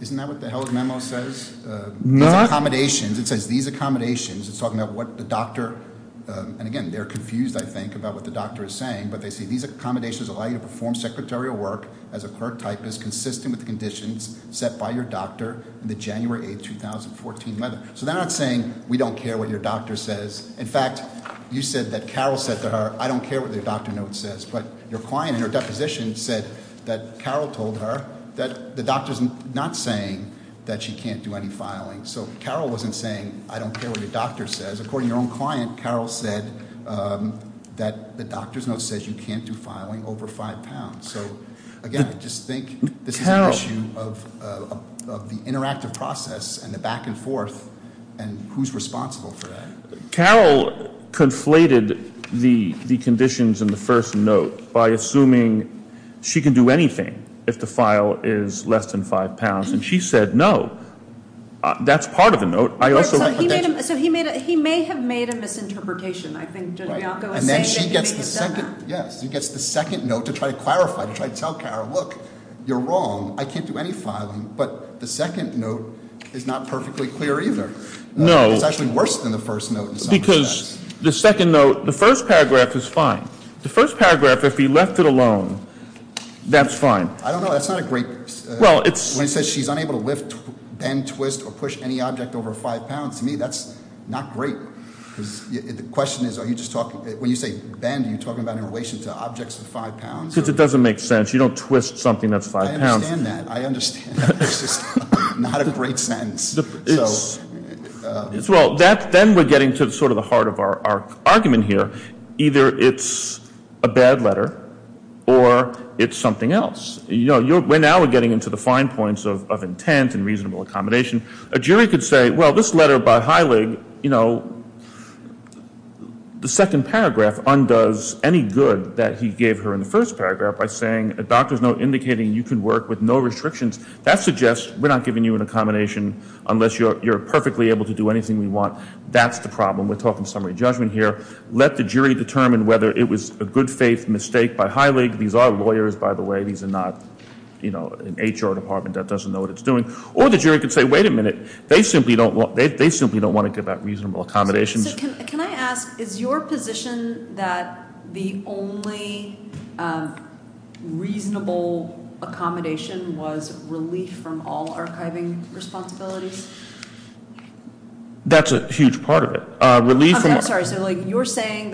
Isn't that what the Hellig Memo says? It says these accommodations. It's talking about what the doctor, and again, they're confused, I think, about what the doctor is saying, but they say these accommodations allow you to perform secretarial work as a pert typist consistent with the conditions set by your doctor in the January 8th, 2014 letter. So then I'm saying we don't care what your doctor says. In fact, you said that Carol said to her, I don't care what the doctor note says, but your client in her deposition said that Carol told her that the doctor's not saying that she can't do any filing. So Carol wasn't saying, I don't care what the doctor says. According to your own client, Carol said that the doctor's note says you can't do filing over five pounds. So again, I just think this is an issue of the interactive process and the back and forth, and who's responsible for that. Carol conflated the conditions in the first note by assuming she can do any filing over anything if the file is less than five pounds. And she said no. That's part of the note. He may have made a misinterpretation. Yes, he gets the second note to try to clarify, to try to tell Carol, look, you're wrong. I can't do any filing. But the second note is not perfectly clear either. It's actually worse than the first note. Because the second note, the first paragraph is fine. The first paragraph, if he left it alone, that's fine. I don't know, that's not a great... When it says she's unable to bend, twist, or push any object over five pounds, to me that's not great. The question is, are you just talking... When you say bend, are you talking about in relation to objects of five pounds? Because it doesn't make sense. You don't twist something that's five pounds. I understand that. I understand that. It's just not a great sentence. Well, then we're getting to sort of the heart of our argument here. Or it's something else. You know, we're now getting into the fine points of intent and reasonable accommodation. A jury could say, well, this letter by Heilig, you know, the second paragraph undoes any good that he gave her in the first paragraph by saying a doctor's note indicating you can work with no restrictions. That suggests we're not giving you an accommodation unless you're perfectly able to do anything you want. That's the problem. We're talking summary judgment here. Let the jury determine whether it was a good faith mistake by Heilig. These are lawyers, by the way. These are not, you know, an H.R. department that doesn't know what it's doing. Or the jury could say, wait a minute. They simply don't want to give out reasonable accommodations. Can I ask, is your position that the only reasonable accommodation was relief from all archiving responsibilities? That's a huge part of it. Relief from...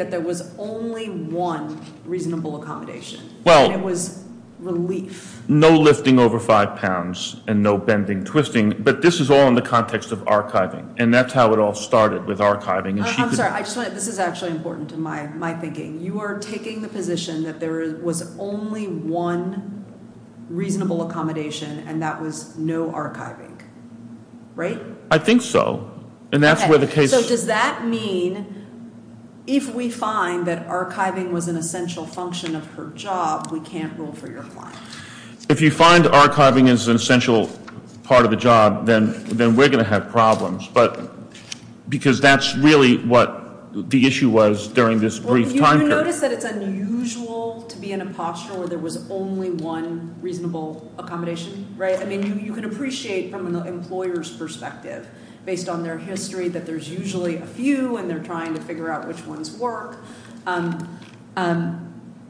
There was only one reasonable accommodation. And it was relief. No lifting over five pounds and no bending, twisting. But this is all in the context of archiving. And that's how it all started with archiving. I'm sorry. This is actually important to my thinking. You are taking the position that there was only one reasonable accommodation and that was no archiving. Right? I think so. And that's where the case... Okay. If we find that archiving was an essential function of her job, we can't rule for your client. If you find archiving is an essential part of the job, then we're going to have problems. Because that's really what the issue was during this brief time period. Well, do you notice that it's unusual to be in a posture where there was only one reasonable accommodation? Right? I mean, you can appreciate from an employer's perspective, based on their history, to figure out which ones were.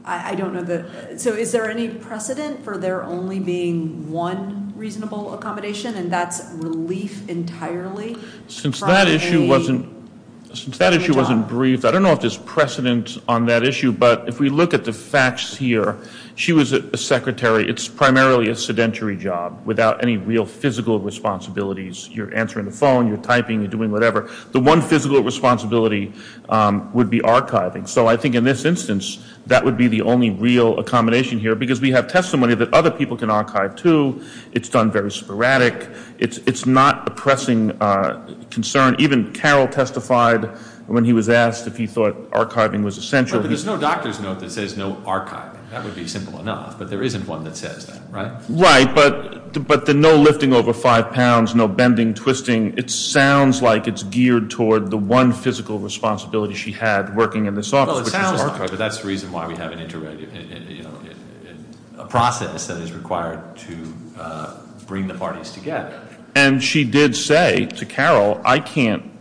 I don't know that... So, is there any precedent for there only being one reasonable accommodation? And that's relief entirely? Since that issue wasn't... Since that issue wasn't briefed, I don't know if there's precedent on that issue. But if we look at the facts here, she was a secretary. It's primarily a sedentary job without any real physical responsibilities. You're answering the phone, you're typing, you're doing whatever. That would be archiving. So I think in this instance, that would be the only real accommodation here because we have testimony that other people can archive too. It's done very sporadic. It's not a pressing concern. Even Carroll testified when he was asked if he thought archiving was essential. But there's no doctor's note that says no archiving. That would be simple enough, but there isn't one that says that, right? Right, but the no lifting over five pounds, she had working in this office. Well, it sounds like it, but that's the reason why we have a process that is required to bring the parties together. And she did say to Carroll, I can't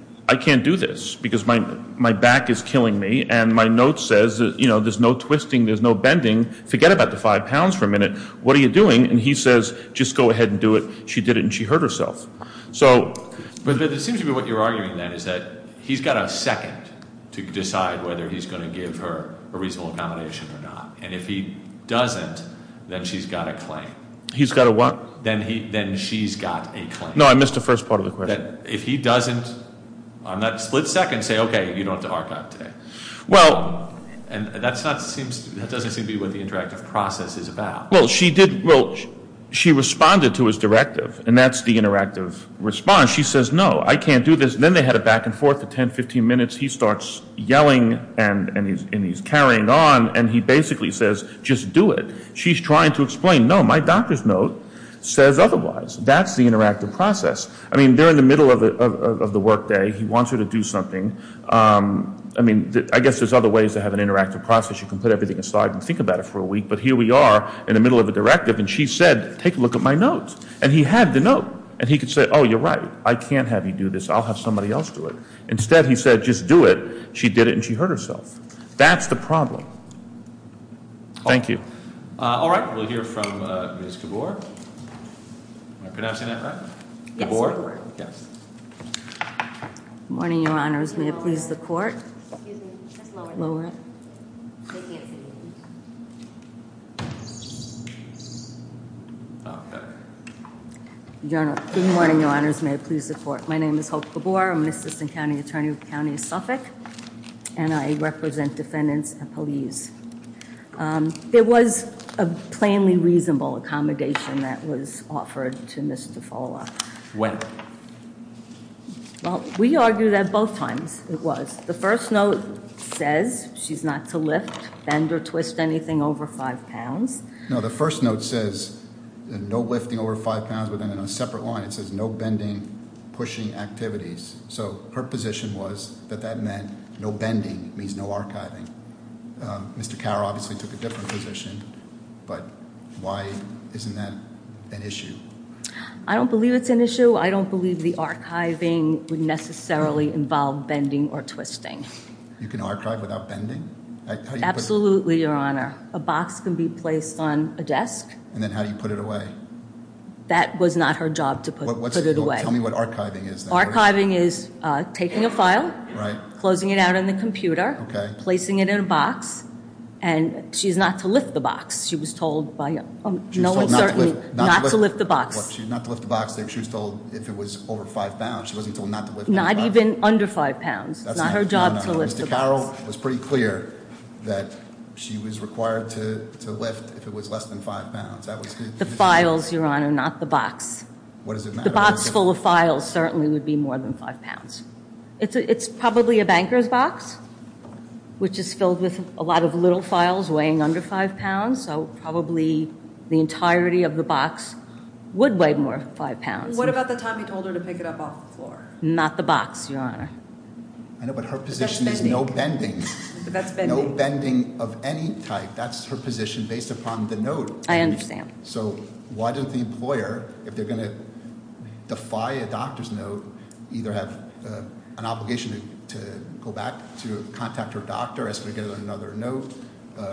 do this because my back is killing me and my note says there's no twisting, there's no bending. Forget about the five pounds for a minute. What are you doing? And he says, just go ahead and do it. She did it and she hurt herself. But it seems to me what you're arguing is that it's up to him to decide whether he's going to give her a reasonable accommodation or not. And if he doesn't, then she's got a claim. He's got a what? Then she's got a claim. No, I missed the first part of the question. If he doesn't on that split second say, okay, you don't have to archive today. And that doesn't seem to be what the interactive process is about. Well, she responded to his directive and that's the interactive response. She says, no, I can't do this. And he's yelling and he's carrying on and he basically says, just do it. She's trying to explain, no, my doctor's note says otherwise. That's the interactive process. I mean, they're in the middle of the workday. He wants her to do something. I mean, I guess there's other ways to have an interactive process. You can put everything aside and think about it for a week. But here we are in the middle of a directive and she said, take a look at my notes. And he had the note and she did it and she hurt herself. That's the problem. Thank you. All right, we'll hear from Ms. Gabor. Can I say that right? Gabor, yes. Good morning, your honors. May I please have the court? Good morning, your honors. May I please have the court? My name is Hope Gabor. And I represent defendants and police. It was a plainly reasonable accommodation that was offered to Ms. DeFolo. When? Well, we argued that both times, it was. The first note says she's not to lift, bend, or twist anything over five pounds. No, the first note says no lifting over five pounds within a separate line. It says no bending, pushing activities. So her position was that that meant no bending means no archiving. Mr. Carr obviously took a different position, but why isn't that an issue? I don't believe it's an issue. I don't believe the archiving would necessarily involve bending or twisting. You can archive without bending? Absolutely, your honor. A box can be placed on a desk. And then how do you put it away? That was not her job to put it away. Tell me what archiving is. Archiving is taking a file, closing it out on the computer, placing it in a box, and she's not to lift the box. She was told by no one certainly not to lift the box. She's not to lift the box if she was told if it was over five pounds. Not even under five pounds. Not her job to lift the box. Mr. Carroll was pretty clear that she was required to lift if it was less than five pounds. The files, your honor, not the box. The box full of files certainly would be more than five pounds. It's probably a banker's box which is filled with a lot of little files weighing under five pounds, so probably the entirety of the box would weigh more than five pounds. What about the time you told her to pick it up off the floor? Not the box, your honor. I know, but her position is no bending. No bending of any type. That's her position based upon the note. I understand. So why does the employer, if they're going to defy a doctor's note, who either has an obligation to go back to contact her doctor as we get another note,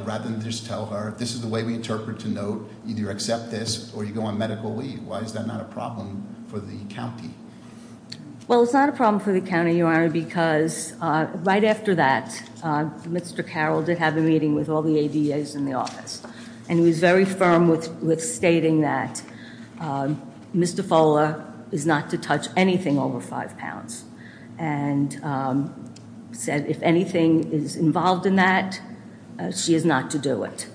rather than just tell her this is the way we interpret the note, you either accept this or you go on medical leave. Why is that not a problem for the county? Well, it's not a problem for the county, your honor, because right after that, Mr. Carroll did have the meeting with all the ADAs in the office. And he was very firm with stating that Mr. Fuller is not to touch anything over five pounds. And said if anything is involved in that, she is not to do it.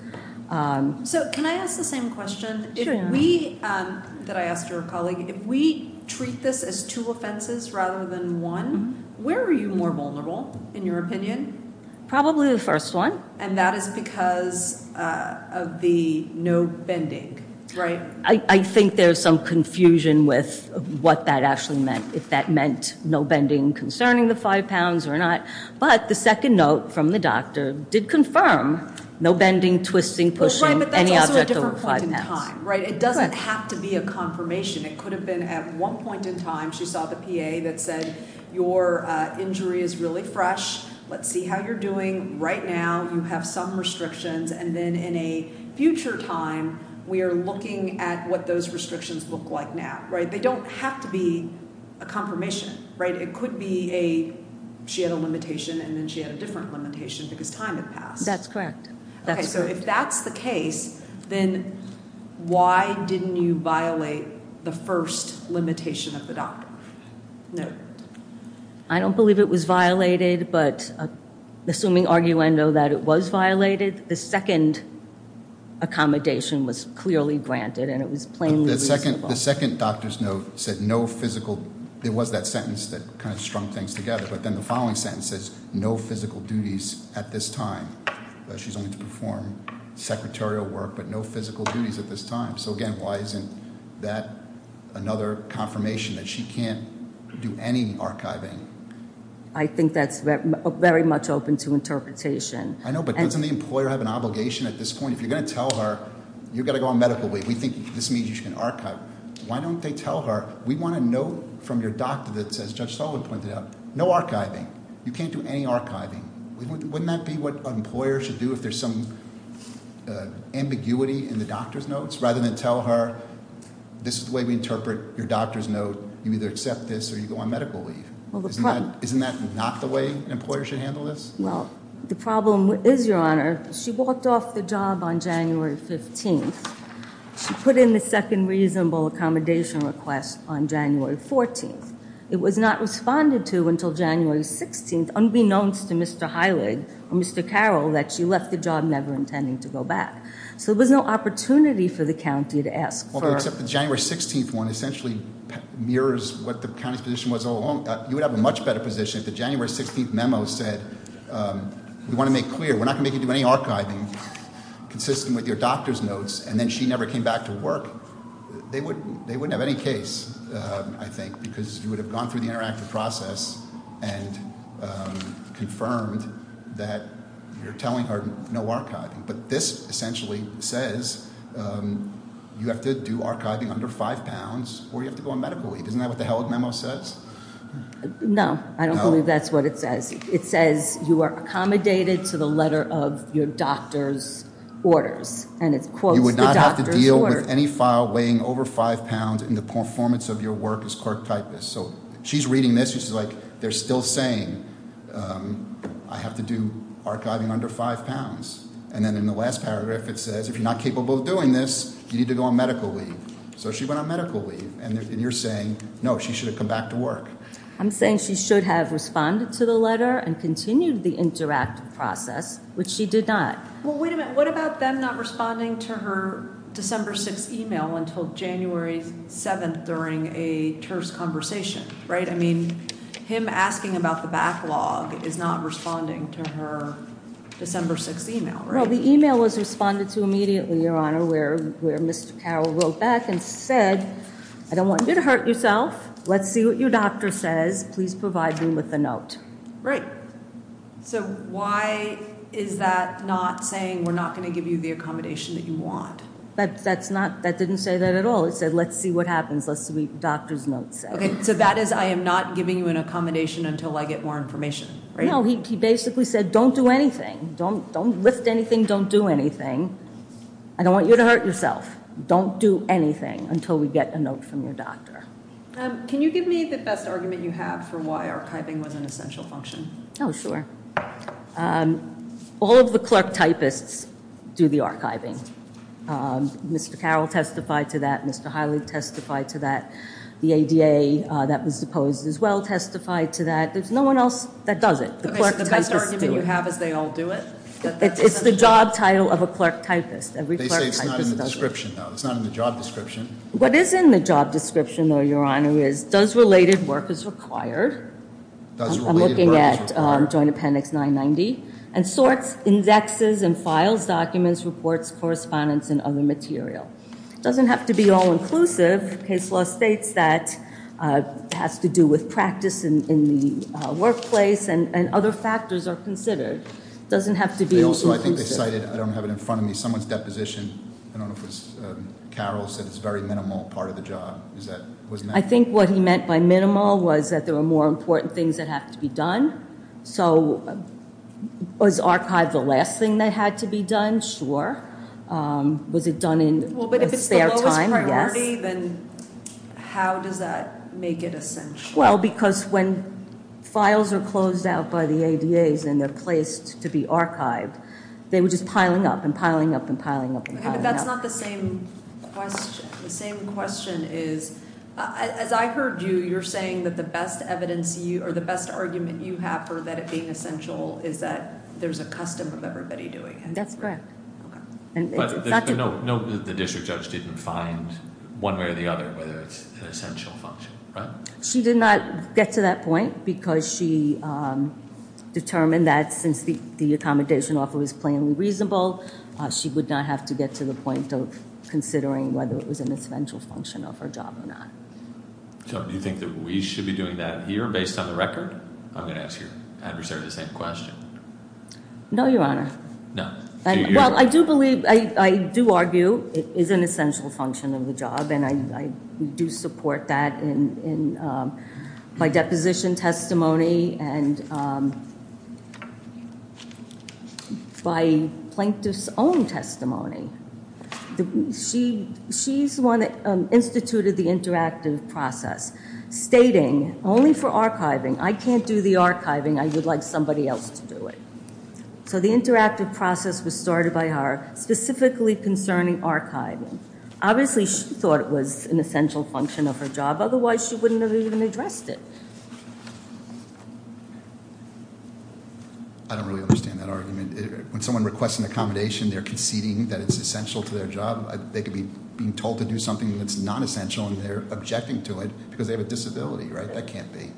So can I ask the same question? Sure, your honor. That I asked your colleague. If we treat this as two offenses rather than one, where are you more vulnerable in your opinion? Probably the first one. And that is because of the note bending, right? I think there's some confusion with what that actually meant. If that meant no bending concerning the five pounds or not. But the second note from the doctor did confirm no bending, twisting, pushing any object over five pounds. It doesn't have to be a confirmation. It could have been at one point in time she saw the PA that said your injury is really fresh. Let's see how you're doing right now. You have some restrictions. And then in a future time, we are looking at what those restrictions look like now. They don't have to be a confirmation. It could be she had a limitation and then she had a different limitation because time has passed. So if that's the case, then why didn't you violate the first limitation of the doctor? No. I don't believe it was violated, but assuming arguendo that it was violated, the second accommodation was clearly granted and it was plainly reasonable. The first note said no physical, there was that sentence that kind of strung things together, but then the following sentence says no physical duties at this time. She's going to perform secretarial work, but no physical duties at this time. So again, why isn't that another confirmation that she can't do any archiving? I think that's very much open to interpretation. I know, but doesn't the employer have an obligation at this point? If you're going to tell her you've got to go on medical leave, we think this means you can archive. Why don't they tell her we want a note from your doctor that says, as Judge Sullivan pointed out, no archiving. You can't do any archiving. Wouldn't that be what an employer should do if there's some ambiguity in the doctor's notes rather than tell her this is the way we interpret your doctor's note. You either accept this Isn't that not the way employers should handle this? Well, the problem is, Your Honor, on January 16th, she put in the second reasonable accommodation request on January 14th. It was not responded to until January 16th, unbeknownst to Mr. Hyland or Mr. Carroll that she left the job never intending to go back. So there was no opportunity for the county to ask her. Well, the January 16th one essentially mirrors what the county's position was all along. You would have a much better position if the January 16th memo said we want to make clear we're not going to make you do any archiving consistent with your doctor's notes and then she never came back to work. They wouldn't have any case, I think, because you would have gone through the interactive process and confirmed that you're telling her no archiving. But this essentially says you have to do archiving under five pounds or you have to go on medical leave. Isn't that what the hell his memo says? No, I don't believe that's what it says. It says you are accommodated under the order of your doctor's orders. And it quotes the doctor's orders. You would not have to deal with any file weighing over five pounds in the performance of your work as clerk typist. So she's reading this, she's like, they're still saying I have to do archiving under five pounds. And then in the last paragraph it says if you're not capable of doing this you need to go on medical leave. So she went on medical leave and you're saying no, she should have come back to work. I'm saying she should have responded to the letter and continued the interactive process, which she did not. Well, wait a minute, what about them not responding to her December 6th email until January 7th during a terse conversation, right? I mean, him asking about the backlog is not responding to her December 6th email, right? No, the email was responded to immediately, Your Honor, where Mr. Carroll wrote back and said I don't want you to hurt yourself. Let's see what your doctor says. Please provide me with a note. So why is that not saying we're not going to give you the accommodations you want? That didn't say that at all. It said let's see what happens. Let's see what the doctor's note says. So that is I am not giving you an accommodation until I get more information, right? No, he basically said don't do anything. Don't lift anything, don't do anything. I don't want you to hurt yourself. Don't do anything until we get a note from your doctor. Can you give me the best argument you have for why archiving was an essential function? Oh, sure. All of the clerk typists do the archiving. Mr. Carroll testified to that. Mr. Hyland testified to that. The ABA that was deposed as well testified to that. There's no one else that does it. The best argument you have is they all do it? It's the job title of a clerk typist. Every clerk typist does it. It's not in the job description. What is in the job description, Your Honor, is does related work as required. I'm looking at Joint Appendix 990. And sorts, indexes, and files, documents, reports, correspondence, and other material. It doesn't have to be all inclusive. Case law states that it has to do with practice in the workplace, and other factors are considered. It doesn't have to be all inclusive. I don't have it in front of me. Someone's deposition, I don't know if it was Carroll, said it's a very minimal part of the job. I think what he meant by minimal was that there are more important things that have to be done. So, was archive the last thing that had to be done? Sure. Was it done in a fair time? Well, but if it's all a priority, then how does that make it essential? Well, because when files are closed out by the ADA, then they're placed to be archived. They were just piling up, and piling up, and piling up, and piling up. That's not the same question. The same question is, as I heard you, you're saying that the best evidence, or the best argument you have for that being essential is that there's a custom of everybody doing it. That's correct. But note that the district judge didn't find one way or the other whether it's an essential function. She did not get to that point because she determined that since the accommodation offer was plainly reasonable, she would not have to get to the point of considering whether it was an essential function of her job or not. We should be doing that here based on the record? I'm going to ask your adversary the same question. No, Your Honor. No. Well, I do believe, I do argue it is an essential function of the job, and I do support that in my deposition testimony and my plaintiff's own testimony. She's one that instituted the interactive process. Stating, only for archiving. I can't do the archiving. I would like somebody else to do it. So the interactive process was started by her specifically concerning archiving. Obviously, she thought it was an essential function of her job. Otherwise, she wouldn't have even addressed it. I don't really understand that argument. When someone requests an accommodation, they're conceding that it's essential to their job. They could be told to do something that's not essential, and they're objecting to it because they have a disability, right? That can't be.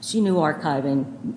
She knew archiving.